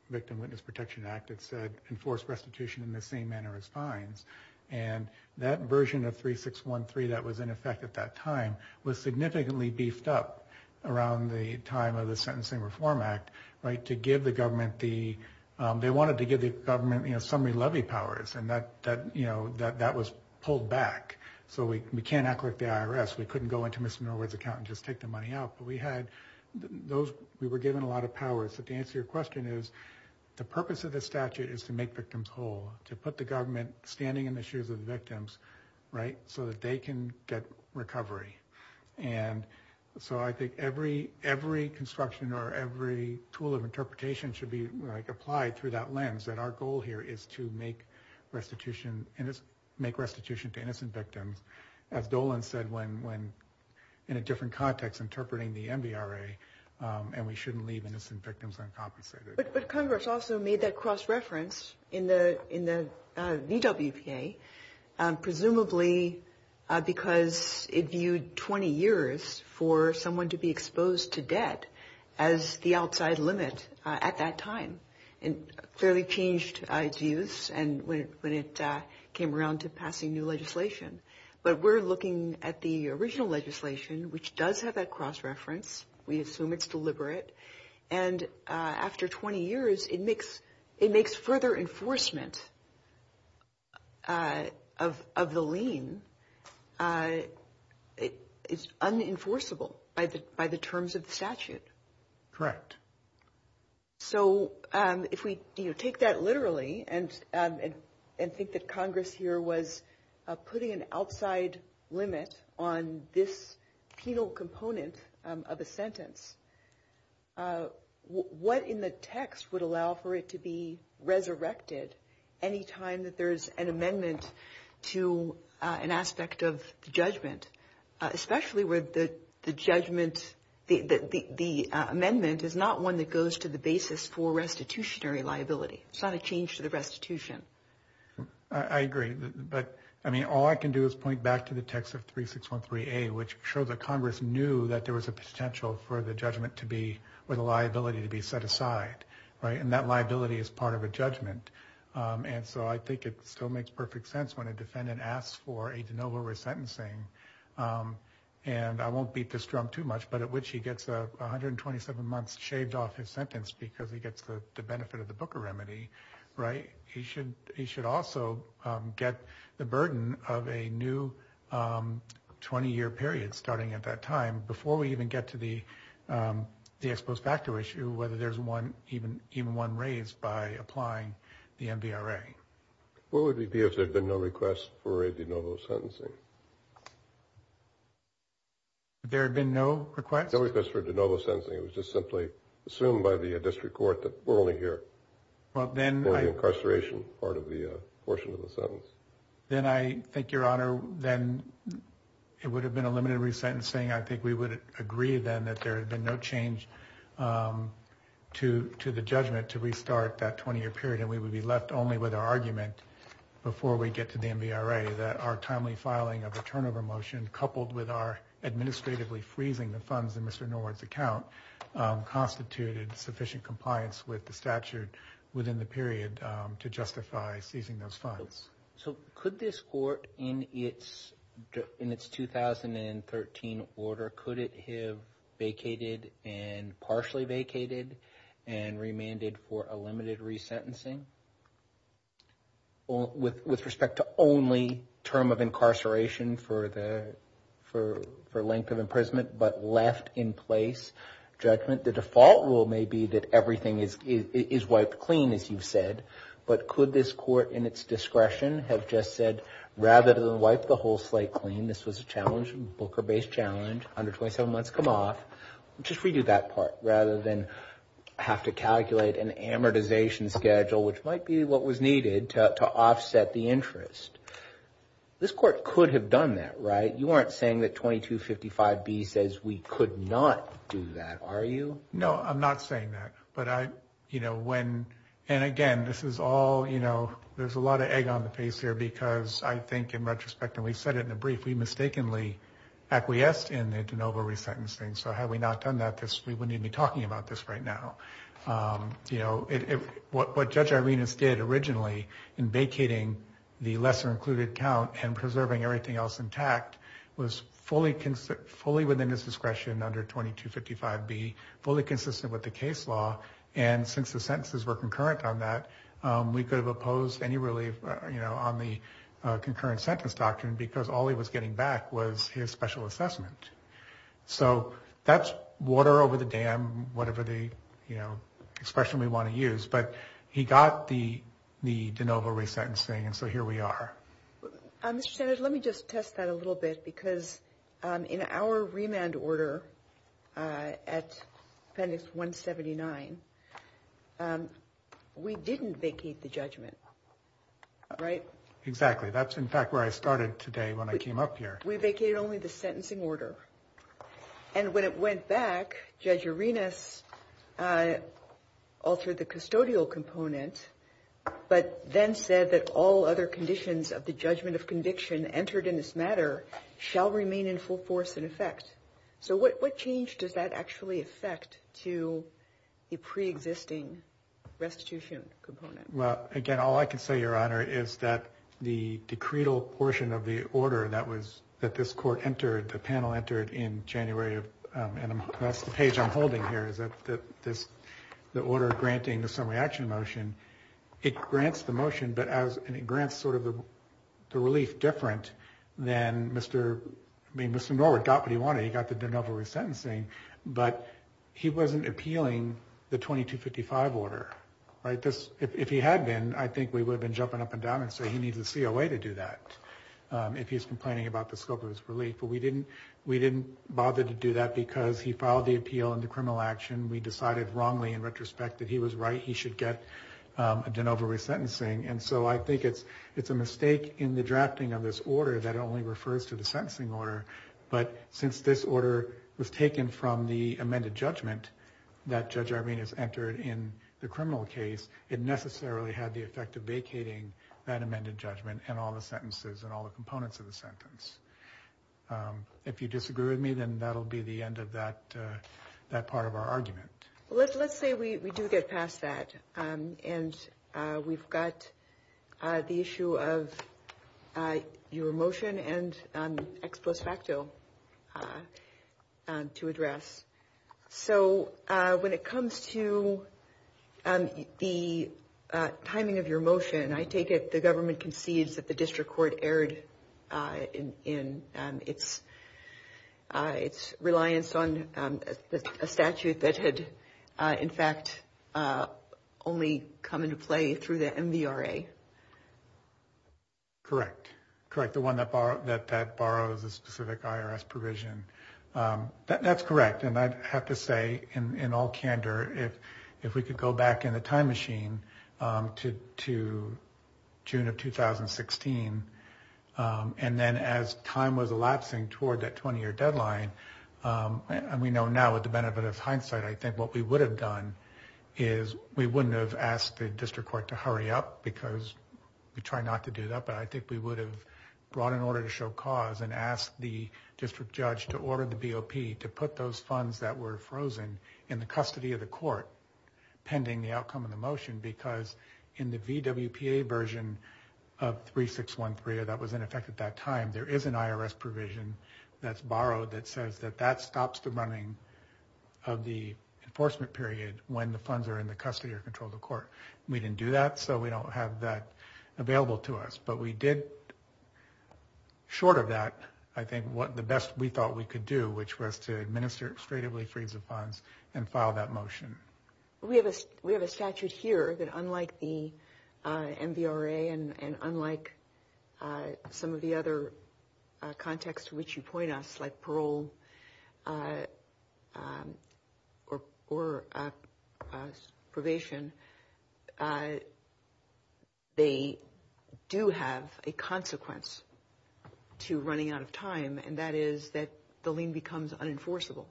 Victim Witness Protection Act, it said, enforce restitution in the same manner as fines. And that version of 3613 that was in effect at that time was significantly beefed up around the time of the Sentencing Reform Act, right, to give the government the, they wanted to give the government, you know, summary levy powers. And that, you know, that was pulled back. So we can't act like the IRS. We couldn't go into Mr. Norwood's account and just take the money out. We had those, we were given a lot of powers. So to answer your question is, the purpose of the statute is to make victims whole, to put the government standing in the shoes of the victims, right, so that they can get recovery. And so I think every construction or every tool of interpretation should be, like, applied through that lens, that our goal here is to make restitution to innocent victims. As Dolan said, when, in a different context, interpreting the MVRA, and we shouldn't leave innocent victims uncompensated. But Congress also made that cross-reference in the VWPA, presumably because it viewed 20 years for someone to be exposed to debt as the outside limit at that time. And it fairly changed its use when it came around to passing new legislation. But we're looking at the original legislation, which does have that cross-reference. We assume it's deliberate. And after 20 years, it makes further enforcement of the lien. It's unenforceable by the terms of the statute. Correct. So if we take that literally and think that Congress here put an outside limit on this penal component of a sentence, what in the text would allow for it to be resurrected any time that there's an amendment to an aspect of judgment, especially where the amendment is not one that goes to the basis for restitutionary liability. It's not a change to the restitution. I agree. I mean, all I can do is point back to the text of 3613A, which shows that Congress knew that there was a potential for the judgment to be or the liability to be set aside. And that liability is part of a judgment. And so I think it still makes perfect sense when a defendant asks for a de novo resentencing. And I won't beat this drum too much, but at which he gets 127 months shaved off his sentence because he gets the benefit of the Booker remedy. Right. He should also get the burden of a new 20-year period starting at that time, before we even get to the ex post facto issue, whether there's even one raised by applying the MVRA. What would it be if there had been no request for a de novo sentencing? There had been no request? No request for de novo sentencing. It was just simply assumed by the district court that we're only here. Well, then I think your honor, then it would have been a limited resentencing. I think we would agree then that there had been no change to the judgment to restart that 20-year period. And we would be left only with our argument before we get to the MVRA, that our timely filing of a turnover motion, coupled with our administratively freezing the funds in Mr. Norwood's account, constituted sufficient compliance with the statute within the period to justify seizing those funds. So could this court in its 2013 order, could it have vacated and partially vacated and remanded for a limited resentencing? With respect to only term of incarceration for length of imprisonment, but left in place judgment, the default rule may be that everything is wiped clean, as you've said, but could this court in its discretion have just said, rather than wipe the whole slate clean, this was a challenge, Booker-based challenge, 127 months come off, just redo that part, rather than have to calculate an amortization schedule, which might be what was needed to offset the interest. This court could have done that, right? You aren't saying that 2255B says we could not do that, are you? No, I'm not saying that, but I, you know, when, and again, this is all, you know, there's a lot of egg on the case here, because I think in retrospect, and we said it in a brief, we mistakenly acquiesced in the de novo resentencing. So had we not done that, we wouldn't even be talking about this right now. You know, what Judge Irenas did originally in vacating the lesser included count and preserving everything else intact was fully within his discretion under 2255B, fully consistent with the case law. And since the sentences were concurrent on that, we could have opposed any relief, you know, on the concurrent sentence doctrine, because all he was getting back was his special assessment. So that's water over the dam, whatever the, you know, expression we want to use, but he got the de novo resentencing, and so here we are. Mr. Sanders, let me just test that a little bit, because in our remand order at Appendix 179, we didn't vacate the judgment, right? Exactly. That's, in fact, where I started today when I came up here. We vacated only the sentencing order. And when it went back, Judge Irenas altered the custodial components, but then said that all other conditions of the judgment of conviction entered in this matter shall remain in full force in effect. So what change does that actually affect to the pre-existing restitution component? Well, again, all I can say, Your Honor, is that the decretal portion of the order that was, that this court entered, the panel entered in January of, and that's the page I'm holding here, is that the order granting the summary action motion it grants the motion, but as, and it grants sort of the relief different than Mr., I mean, Mr. Norwood got what he wanted. He got the de novo resentencing, but he wasn't appealing the 2255 order, right? Because if he had been, I think we would have been jumping up and down and say he needs a COA to do that if he was complaining about the scope of his relief. But we didn't bother to do that because he filed the appeal in the criminal action. We decided wrongly in retrospect that he was right. He should get a de novo resentencing. And so I think it's a mistake in the drafting of this order that only refers to the sentencing order. But since this order was taken from the amended judgment that Judge Arvinas entered in the criminal case, it necessarily had the effect of vacating that amended judgment and all the sentences and all the components of the sentence. If you disagree with me, then that'll be the end of that part of our argument. Let's say we do get past that and we've got the issue of your motion and ex post facto to address. So when it comes to the timing of your motion, I take it the government concedes that the district court erred in its reliance on a statute that had, in fact, only come into play through the MVRA? Correct. Correct. The one that borrows a specific IRS provision. That's correct. And I'd have to say in all candor, if we could go back in the time machine to June of 2016, and then as time was elapsing towards that 20-year deadline, and we know now with the benefit of hindsight, I think what we would have done is we wouldn't have asked the district court to hurry up because we try not to do that, but I think we would have brought an order to show cause and asked the district judge to order the BOP to put those funds that were frozen in the custody of the court pending the outcome of the motion because in the VWPA version of 3613, that was in effect at that time, there is an IRS provision that's borrowed that says that that stops the running of the enforcement period when the funds are in the custody or control of the court. We didn't do that, so we don't have that available to us, but we did, short of that, I think what the best we thought we could do, which was to administer excretively freeze of funds and file that motion. We have a statute here that unlike the MVRA and unlike some of the other contexts to which you point us like parole or probation, they do have a consequence to running out of time and that is that the lien becomes unenforceable.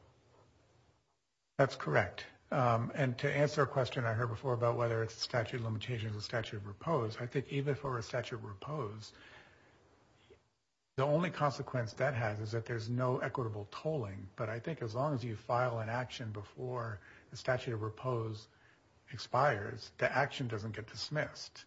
That's correct. And to answer a question I heard before about whether it's statute limitations or statute proposed, I think even for a statute proposed, the only consequence that has is that there's no equitable tolling, but I think as long as you file an action before the statute of proposed expires, the action doesn't get dismissed.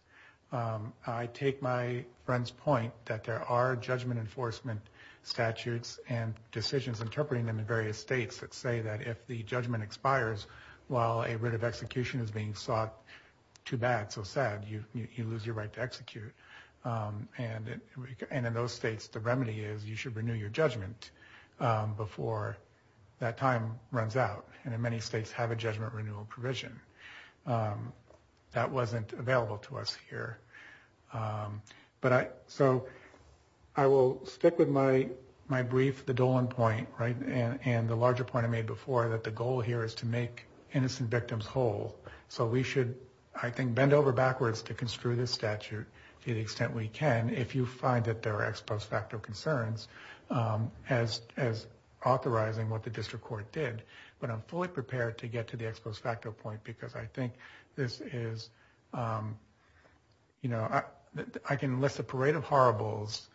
I take my friend's point that there are judgment enforcement statutes and decisions interpreting them in various states that say that if the judgment expires while a writ of execution is being sought to that, you lose your right to execute. And in those states, the remedy is you should renew your judgment before that time runs out. And in many states have a judgment renewal provision that wasn't available to us here. But so I will stick with my brief, the Dolan point, right? And the larger point I made before that the goal here is to make innocent victims whole. So we should, I think, bend over backwards to construe this statute to the extent we can, if you find that there are ex post facto concerns as authorizing what the district court did, but I'm fully prepared to get to the ex post facto point because I think this is, you know, I can list a parade of horribles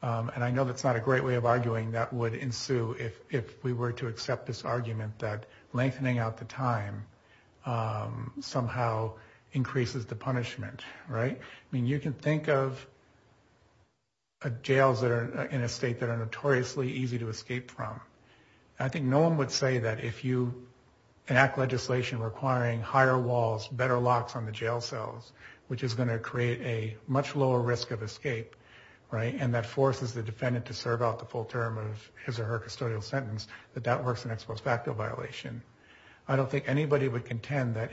and I know that's not a great way of arguing that would ensue if we were to accept this argument that lengthening out the time somehow increases the punishment, right? I mean, you can think of jails that are in a state that are notoriously easy to escape from. I think no one would say that if you enact legislation requiring higher walls, better locks on the jail cells, which is gonna create a much lower risk of escape, right? And that forces the defendant to serve out the full term of his or her custodial sentence, that that works in ex post facto violation. I don't think anybody would contend that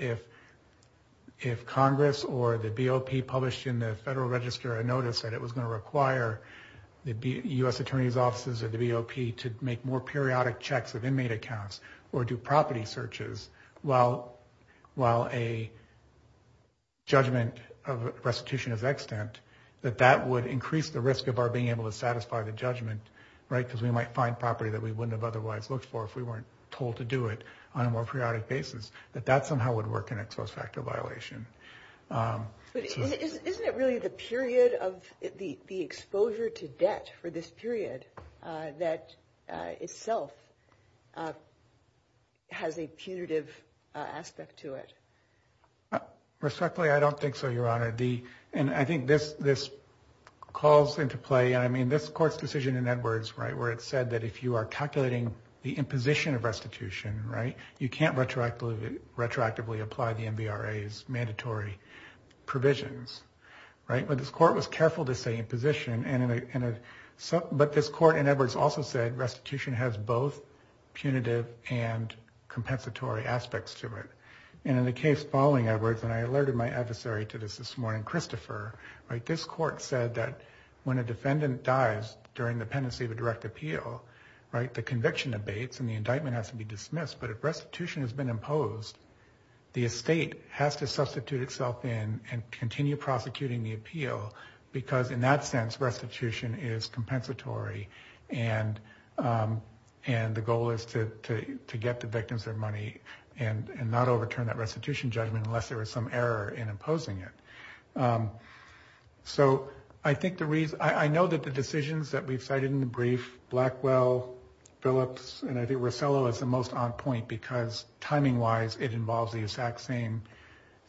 if Congress or the BOP published in the federal register a notice that it was gonna require the U.S. attorney's offices or the BOP to make more periodic checks of inmate accounts or do property searches while a judgment of restitution of extent, that that would increase the risk of our being able to satisfy the judgment, right? Because we might find property that we wouldn't have otherwise looked for if we weren't told to do it on a more periodic basis, that that somehow would work in ex post facto violation. But isn't it really the period of the exposure to debt for this period that itself has a punitive aspect to it? Respectfully, I don't think so, Your Honor. And I think this calls into play, and I mean, this court's decision in Edwards, right, where it said that if you are calculating the imposition of restitution, right, you can't retroactively apply the NBRA's mandatory provisions, right? But this court was careful to say imposition, but this court in Edwards also said restitution has both punitive and compensatory aspects to it. And in the case following Edwards, and I alerted my adversary to this this morning, Christopher, this court said that when a defendant dies during the pendency of a direct appeal, right, the conviction abates and the indictment has to be dismissed, but if restitution has been imposed, the estate has to substitute itself in and continue prosecuting the appeal, because in that sense, restitution is compensatory. And the goal is to get the victim's money and not overturn that restitution judgment unless there was some error in imposing it. So I think the reason, I know that the decisions that we've cited in the brief, Blackwell, Phillips, and I think Rosello is the most on point, because timing-wise, it involves the exact same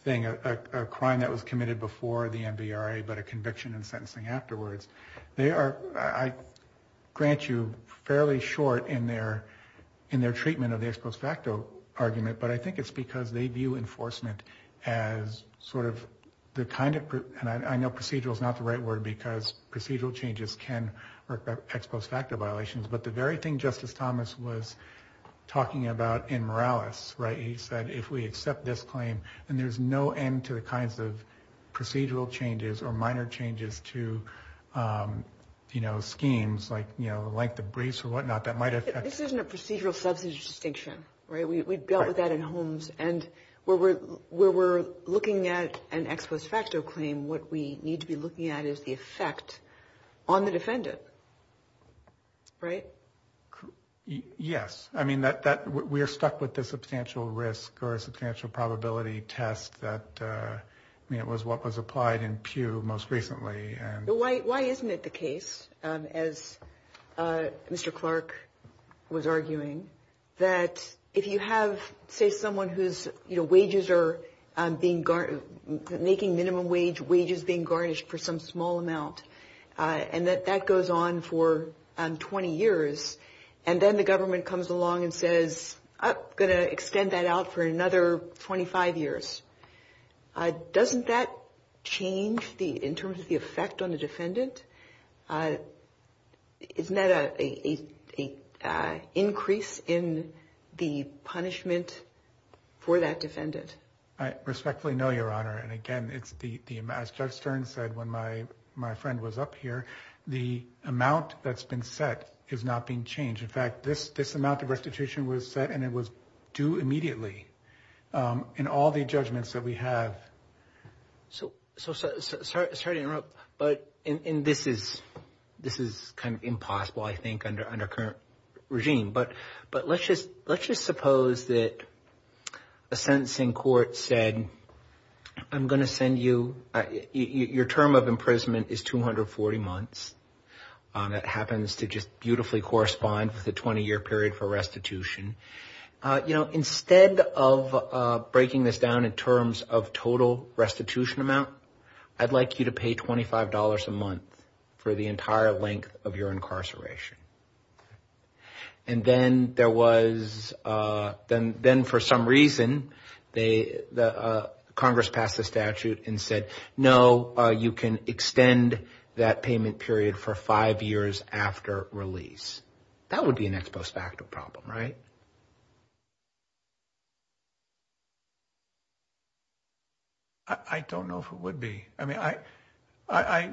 thing, a crime that was committed before the NBRA, but a conviction and sentencing afterwards. They are, I grant you, fairly short in their treatment of the ex post facto argument, but I think it's because they view enforcement as sort of the kind of, and I know procedural is not the right word, because procedural changes can work by ex post facto violations, but the very thing Justice Thomas was talking about in Morales, right? He said, if we accept this claim, then there's no end to the kinds of procedural changes or minor changes to schemes like the briefs or whatnot that might affect- This isn't a procedural substance distinction, right? We've dealt with that in Holmes, and where we're looking at an ex post facto claim, what we need to be looking at is the effect on the defendant, right? Yes. I mean, we're stuck with the substantial risk or substantial probability test that was what was applied in Pew most recently. Why isn't it the case, as Mr. Clark was arguing, that if you have, say, someone whose wages are being garnished, making minimum wage, wages being garnished for some small amount, and that that goes on for 20 years, and then the government comes along and says, I'm going to extend that out for another 25 years, doesn't that change in terms of the effect on the defendant? Isn't that an increase in the punishment for that defendant? I respectfully know, Your Honor, and again, as Judge Stern said when my friend was up here, the amount that's been set is not being changed. In fact, this amount of restitution was set, and it was due immediately in all the judgments that we have. So, sorry to interrupt, but this is kind of impossible, I think, under current regime, but let's just suppose that a sentence in court said, I'm going to send you, your term of imprisonment is 240 months. That happens to just beautifully correspond to the 20-year period for restitution. You know, instead of breaking this down in terms of total restitution amount, I'd like you to pay $25 a month for the entire length of your incarceration. And then there was, then for some reason, the Congress passed a statute and said, no, you can extend that payment period for five years after release. That would be an ex post facto problem, right? I don't know if it would be. I mean, I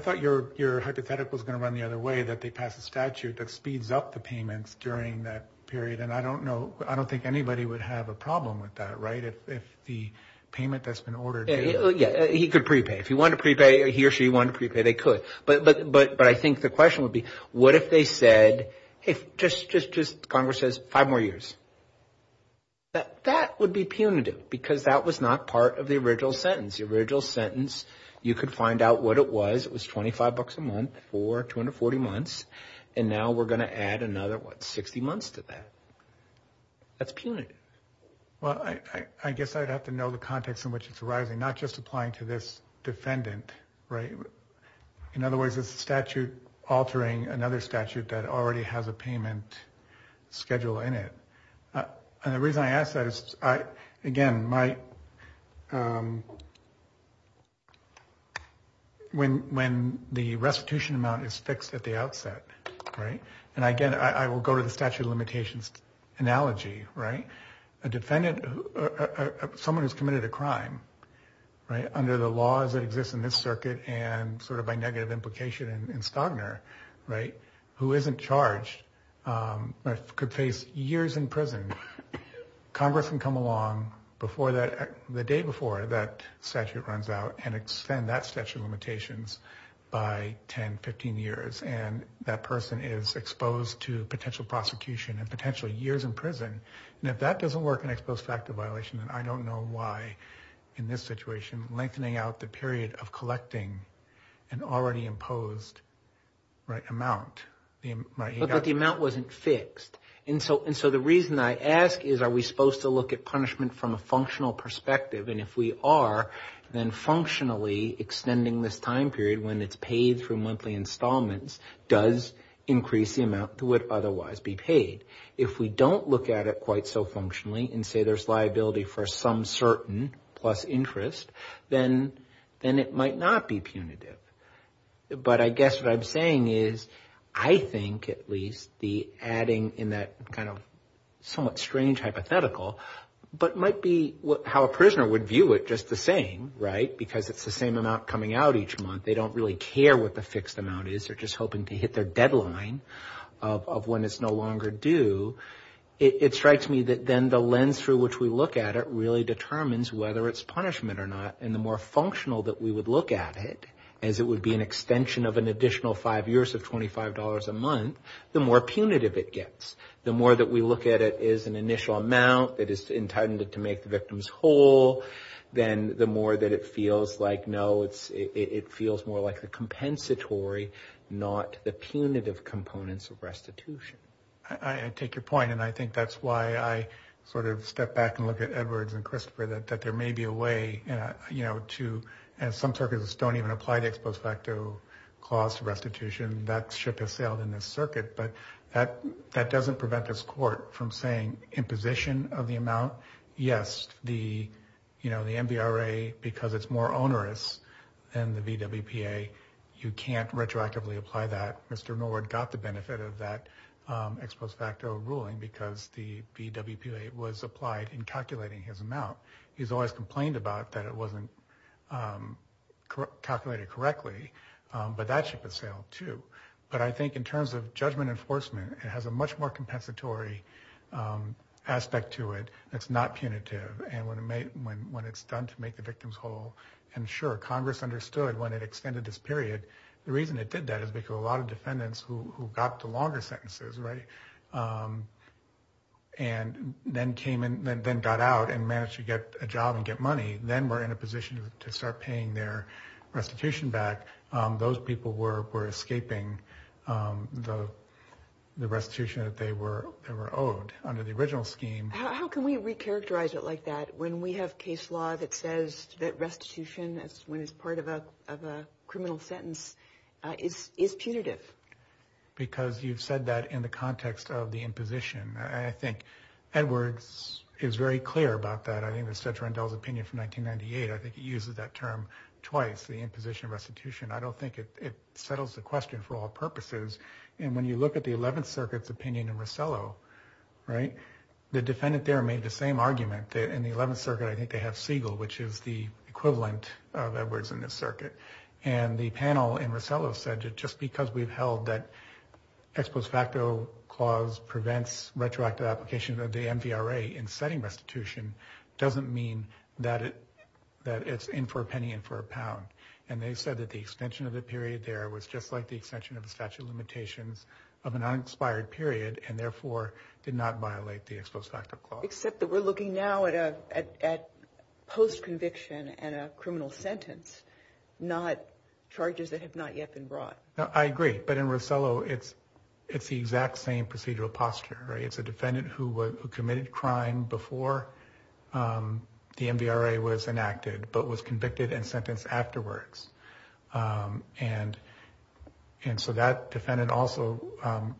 thought your hypothetical is going to run the other way, that they pass a statute that speeds up the payments during that period, and I don't know, I don't think anybody would have a problem with that, right? If the payment that's been ordered. Yeah, he could prepay. If he wanted to prepay, he or she wanted to prepay, they could. But I think the question would be, what if they said, hey, just Congress says five more years. That would be punitive, because that was not part of the original sentence. The original sentence, you could find out what it was. It was $25 a month for 240 months, and now we're going to add another, what, 60 months to that. That's punitive. Well, I guess I'd have to know the context in which it's arising, not just applying to this defendant, right? In other words, is the statute altering another statute that already has a payment schedule in it? And the reason I ask that is, again, when the restitution amount is fixed at the outset, right? And again, I will go to the statute of limitations analogy, right? A defendant, someone who's committed a crime, right, under the laws that exist in this circuit, and sort of by negative implication in Stagner, right, who isn't charged but could face years in prison, Congress can come along before that, the day before that statute runs out and extend that statute of limitations by 10, 15 years. And that person is exposed to potential prosecution and potentially years in prison. And if that doesn't work, an exposed fact of violation, and I don't know why in this situation, lengthening out the period of collecting an already imposed, right, amount, right? But the amount wasn't fixed. And so the reason I ask is, are we supposed to look at punishment from a functional perspective? And if we are, then functionally extending this time period when it's paid for monthly installments does increase the amount that would otherwise be paid. If we don't look at it quite so functionally and say there's liability for some certain plus interest, then it might not be punitive. But I guess what I'm saying is, I think at least the adding in that kind of somewhat strange hypothetical, but might be how a prisoner would view it just the same, right? Because it's the same amount coming out each month. They don't really care what the fixed amount is. They're just hoping to hit their deadline of when it's no longer due. It strikes me that then the lens through which we look at it really determines whether it's punishment or not. And the more functional that we would look at it, as it would be an extension of an additional five years of $25 a month, the more punitive it gets. The more that we look at it as an initial amount that is intended to make the victims whole, then the more that it feels like, no, it feels more like the compensatory, not the punitive components of restitution. And I take your point. And I think that's why I sort of step back and look at Edwards and Christopher, that there may be a way to, and some circuits don't even apply to ex post facto cost restitution that should have failed in this circuit. But that doesn't prevent this court from saying imposition of the amount. Yes, the NBRA, because it's more onerous than the VWPA, you can't retroactively apply that. Mr. Nord got the benefit of that ex post facto ruling because the VWPA was applied in calculating his amount. He's always complained about that it wasn't calculated correctly, but that should have failed too. But I think in terms of judgment enforcement, it has a much more compensatory aspect to it that's not punitive. And when it's done to make the victims whole, and sure, Congress understood when it extended this period, the reason it did that is because a lot of defendants who got the longer sentences, right? And then came in and then got out and managed to get a job and get money. Then we're in a position to start paying their restitution back. Those people were escaping the restitution that they were owed under the original scheme. How can we recharacterize it like that? When we have case law that says that restitution, that's when it's part of a criminal sentence, it's punitive. Because you've said that in the context of the imposition. I think Edwards is very clear about that. I think it was said to Randall's opinion from 1998. I think he uses that term twice, the imposition restitution. I don't think it settles the question for all purposes. And when you look at the 11th Circuit's opinion in Rosello, right? The defendant there made the same argument in the 11th Circuit. I think they have Siegel, which is the equivalent of Edwards in this circuit. And the panel in Rosello said just because we've held that ex post facto clause prevents retroactive application of the MVRA in setting restitution, doesn't mean that it's in for a penny and for a pound. And they said that the extension of the period there was just like the extension of the statute of limitations of an uninspired period and therefore did not violate the ex post facto clause. Except that we're looking now at post conviction and a criminal sentence, not charges that have not yet been brought. No, I agree. But in Rosello, it's the exact same procedural posture, right? It's a defendant who committed crime before the MVRA was enacted, but was convicted and sentenced afterwards. And so that defendant also,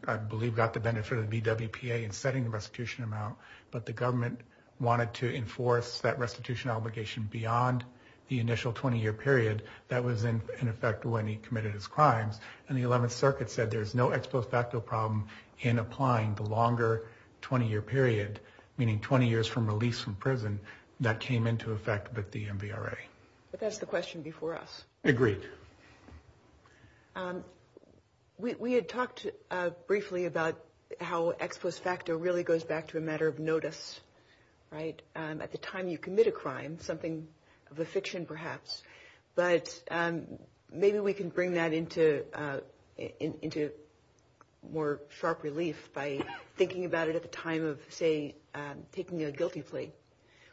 I believe got the benefit of the BWPA in setting the restitution amount, but the government wanted to enforce that restitution obligation beyond the initial 20 year period. That was in effect when he committed his crimes. And the 11th Circuit said, there's no ex post facto problem in applying the longer 20 year period, meaning 20 years from release from prison that came into effect with the MVRA. But that's the question before us. Agreed. We had talked briefly about how ex post facto really goes back to a matter of notice, right? At the time you commit a crime, something of a fiction perhaps, but maybe we can bring that into more sharp relief by thinking about it at the time of say, taking a guilty plea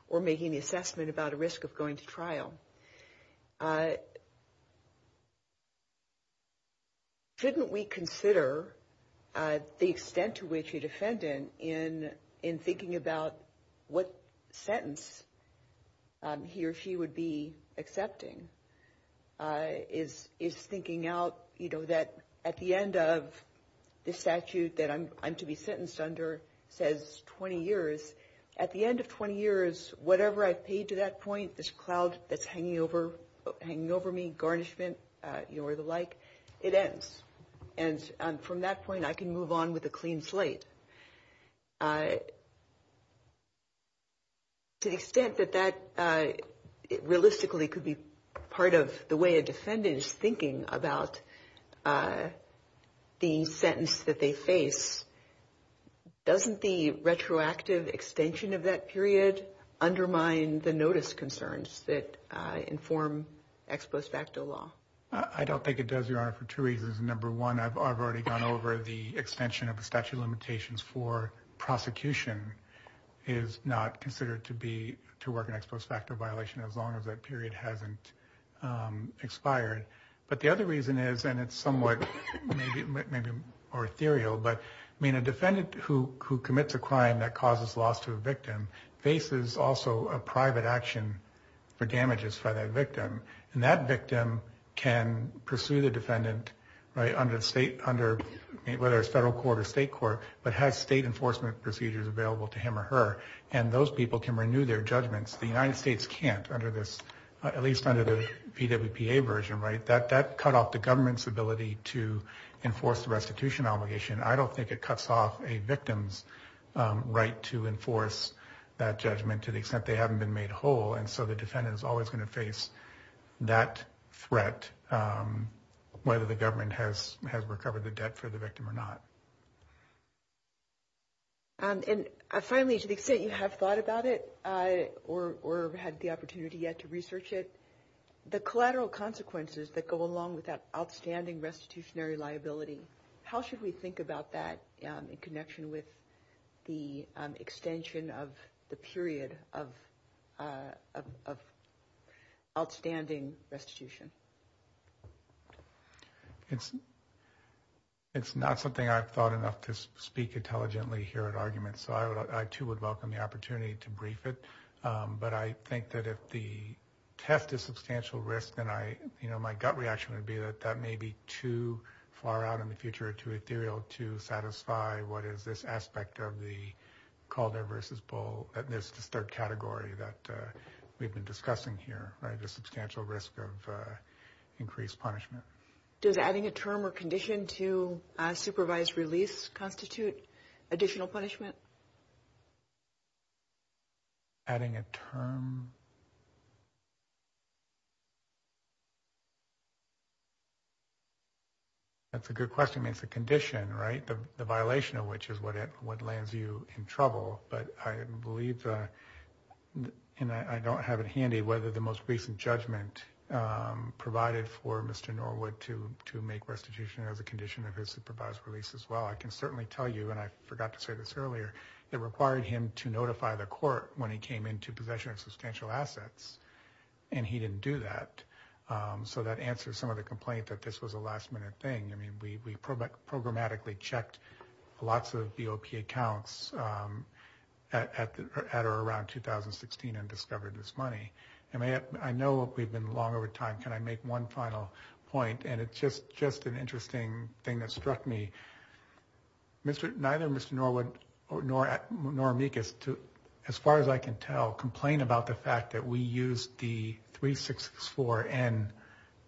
or making the assessment about a risk of going to trial. Shouldn't we consider the extent to which a defendant in thinking about what sentence he or she would be accepting is thinking out, you know, that at the end of the statute that I'm to be sentenced under says 20 years, at the end of 20 years, whatever I paid to that point, this cloud that's hanging over me, garnishment, you know, or the like, it ends. And from that point, I can move on with a clean slate. To the extent that that realistically could be part of the way a defendant is thinking about the sentence that they face, doesn't the retroactive extension of that period undermine the notice concerns that inform ex post facto law? I don't think it does, Your Honor, for two reasons. Number one, I've already gone over the extension of the statute of limitations for prosecution is not considered to be, to work an ex post facto violation as long as that period hasn't expired. But the other reason is, and it's somewhat, maybe more ethereal, but I mean a defendant who commits a crime that causes loss to a victim faces also a private action for damages by that victim. And that victim can pursue the defendant, right, under state, under whether it's federal court or state court, but has state enforcement procedures available to him or her. And those people can renew their judgments. The United States can't under this, at least under the EWPA version, right? That cut off the government's ability to enforce the restitution obligation. I don't think it cuts off a victim's to enforce that judgment to the extent they haven't been made whole. And so the defendant is always going to face that threat whether the government has recovered the debt for the victim or not. And finally, to the extent you have thought about it or had the opportunity yet to research it, the collateral consequences that go along with that outstanding restitutionary liability, how should we think about that in connection with the extension of the period of outstanding restitution? It's not something I've thought enough to speak intelligently here at arguments. So I too would welcome the opportunity to brief it. But I think that if the test is substantial risk, then I, you know, my gut reaction would be that that may be too far out in the future or too ethereal to satisfy what is this aspect of the Calder versus Bull at this third category that we've been discussing here, right? The substantial risk of increased punishment. Does adding a term or condition to a supervised release constitute additional punishment? Adding a term. That's a good question. I mean, it's a condition, right? The violation of which is what lands you in trouble. But I believe, and I don't have it handy, whether the most recent judgment provided for Mr. Norwood to make restitution or the condition of his supervised release as well. I can certainly tell you, and I forgot to say this earlier, it required him to notify the court when he came into possession of substantial assets. And he didn't do that. So that answers some of the complaint that this was a last minute thing. We programmatically checked lots of DOP accounts at or around 2016 and discovered this money. And I know we've been long over time. Can I make one final point? And it's just an interesting thing that struck me. Neither Mr. Norwood nor Mikas, as far as I can tell, complain about the fact that we used the 364N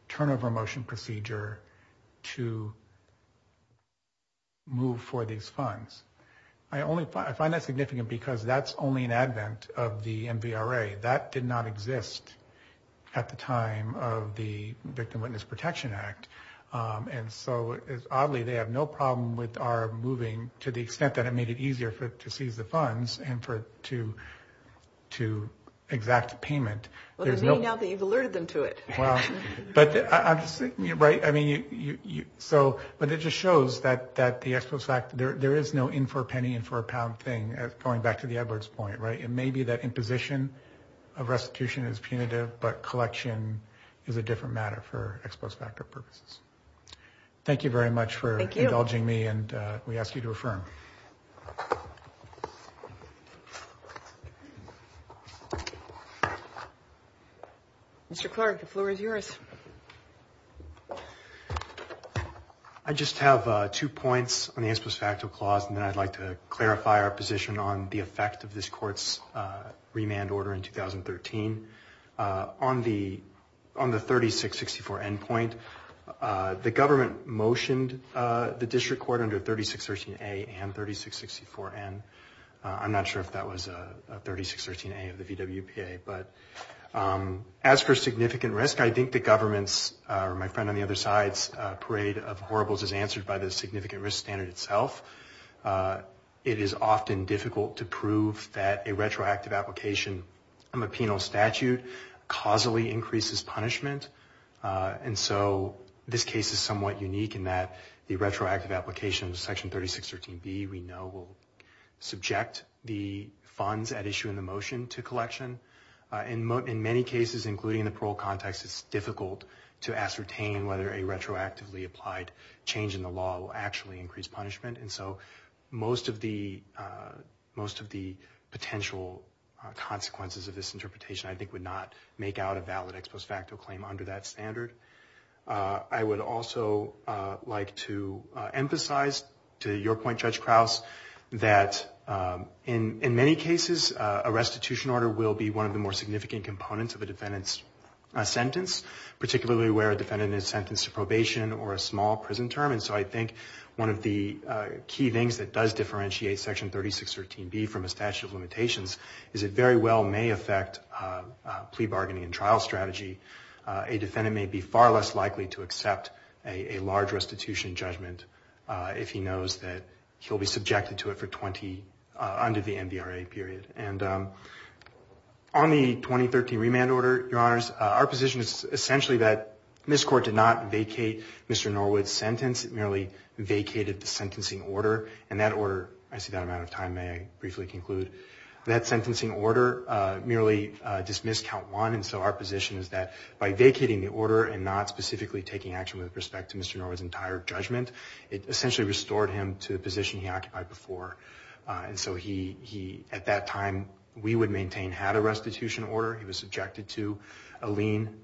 turnover motion procedure to move for these funds. I find that significant because that's only an advent of the NVRA. That did not exist at the time of the Victim Witness Protection Act. And so, it's oddly, they have no problem with our moving to the extent that it made it easier to seize the funds and to exact payment. Well, to me, now that you've alerted them to it. Well, but I'm, right, I mean, so, but it just shows that the ex post facto, there is no in for a penny and for a pound thing, going back to the Edwards point, right? It may be that imposition of restitution is punitive, but collection is a different matter for ex post facto purposes. Thank you very much for indulging me. And we ask you to affirm. Mr. Clark, the floor is yours. I just have two points on the ex post facto clause, and then I'd like to clarify our position on the effect of this court's remand order in 2013. On the 3664N point, the government motioned the district court under 3613A and 3664N. I'm not sure if that was 3613A of the VWPA, but as for significant risk, I think the government's, or my friend on the other side's, parade of horribles is answered by the significant risk standard itself. It is often difficult to prove that a retroactive application from a penal statute causally increases punishment. And so this case is somewhat unique in that the retroactive application of section 3613B, we know will subject the funds at issue in the motion to collection. In many cases, including the parole context, it's difficult to ascertain whether a retroactively applied change in the law will actually increase punishment. And so most of the potential consequences of this interpretation, I think would not make out a valid ex post facto claim under that standard. I would also like to emphasize to your point, Judge Krause, that in many cases, a restitution order will be one of the more significant components of a defendant's sentence, particularly where a defendant is sentenced to probation or a small prison term. And so I think one of the key things that does differentiate section 3613B from a statute of limitations is it very well may affect plea bargaining and trial strategy. A defendant may be far less likely to accept a large restitution judgment if he knows that he'll be subjected to it for 20, under the NVRA period. And on the 2013 remand order, your honors, our position is essentially that this court did not vacate Mr. Norwood's sentence. It merely vacated the sentencing order. And that order, I see that amount of time may I briefly conclude, that sentencing order merely dismissed count one. And so our position is that by vacating the order and not specifically taking action with respect to Mr. Norwood's entire judgment, it essentially restored him to the position he occupied before. And so he, at that time, we would maintain had a restitution order. He was subjected to a lien.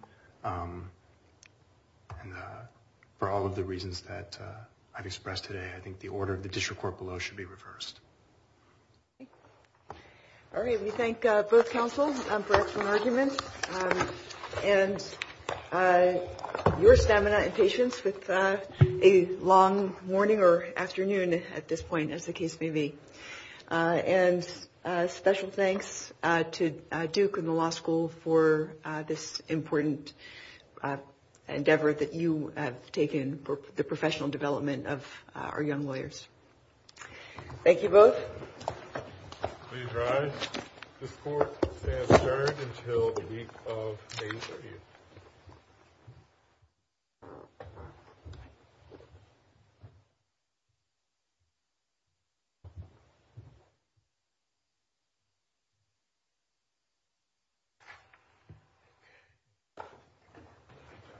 And for all of the reasons that I've expressed today, I think the order of the district court below should be reversed. All right. We thank both counsel for that argument. And your stamina and patience with a long morning or afternoon at this point, as the case may be. And special thanks to Duke and the law school for this important endeavor that you have taken for the professional development of our young lawyers. Thank you both.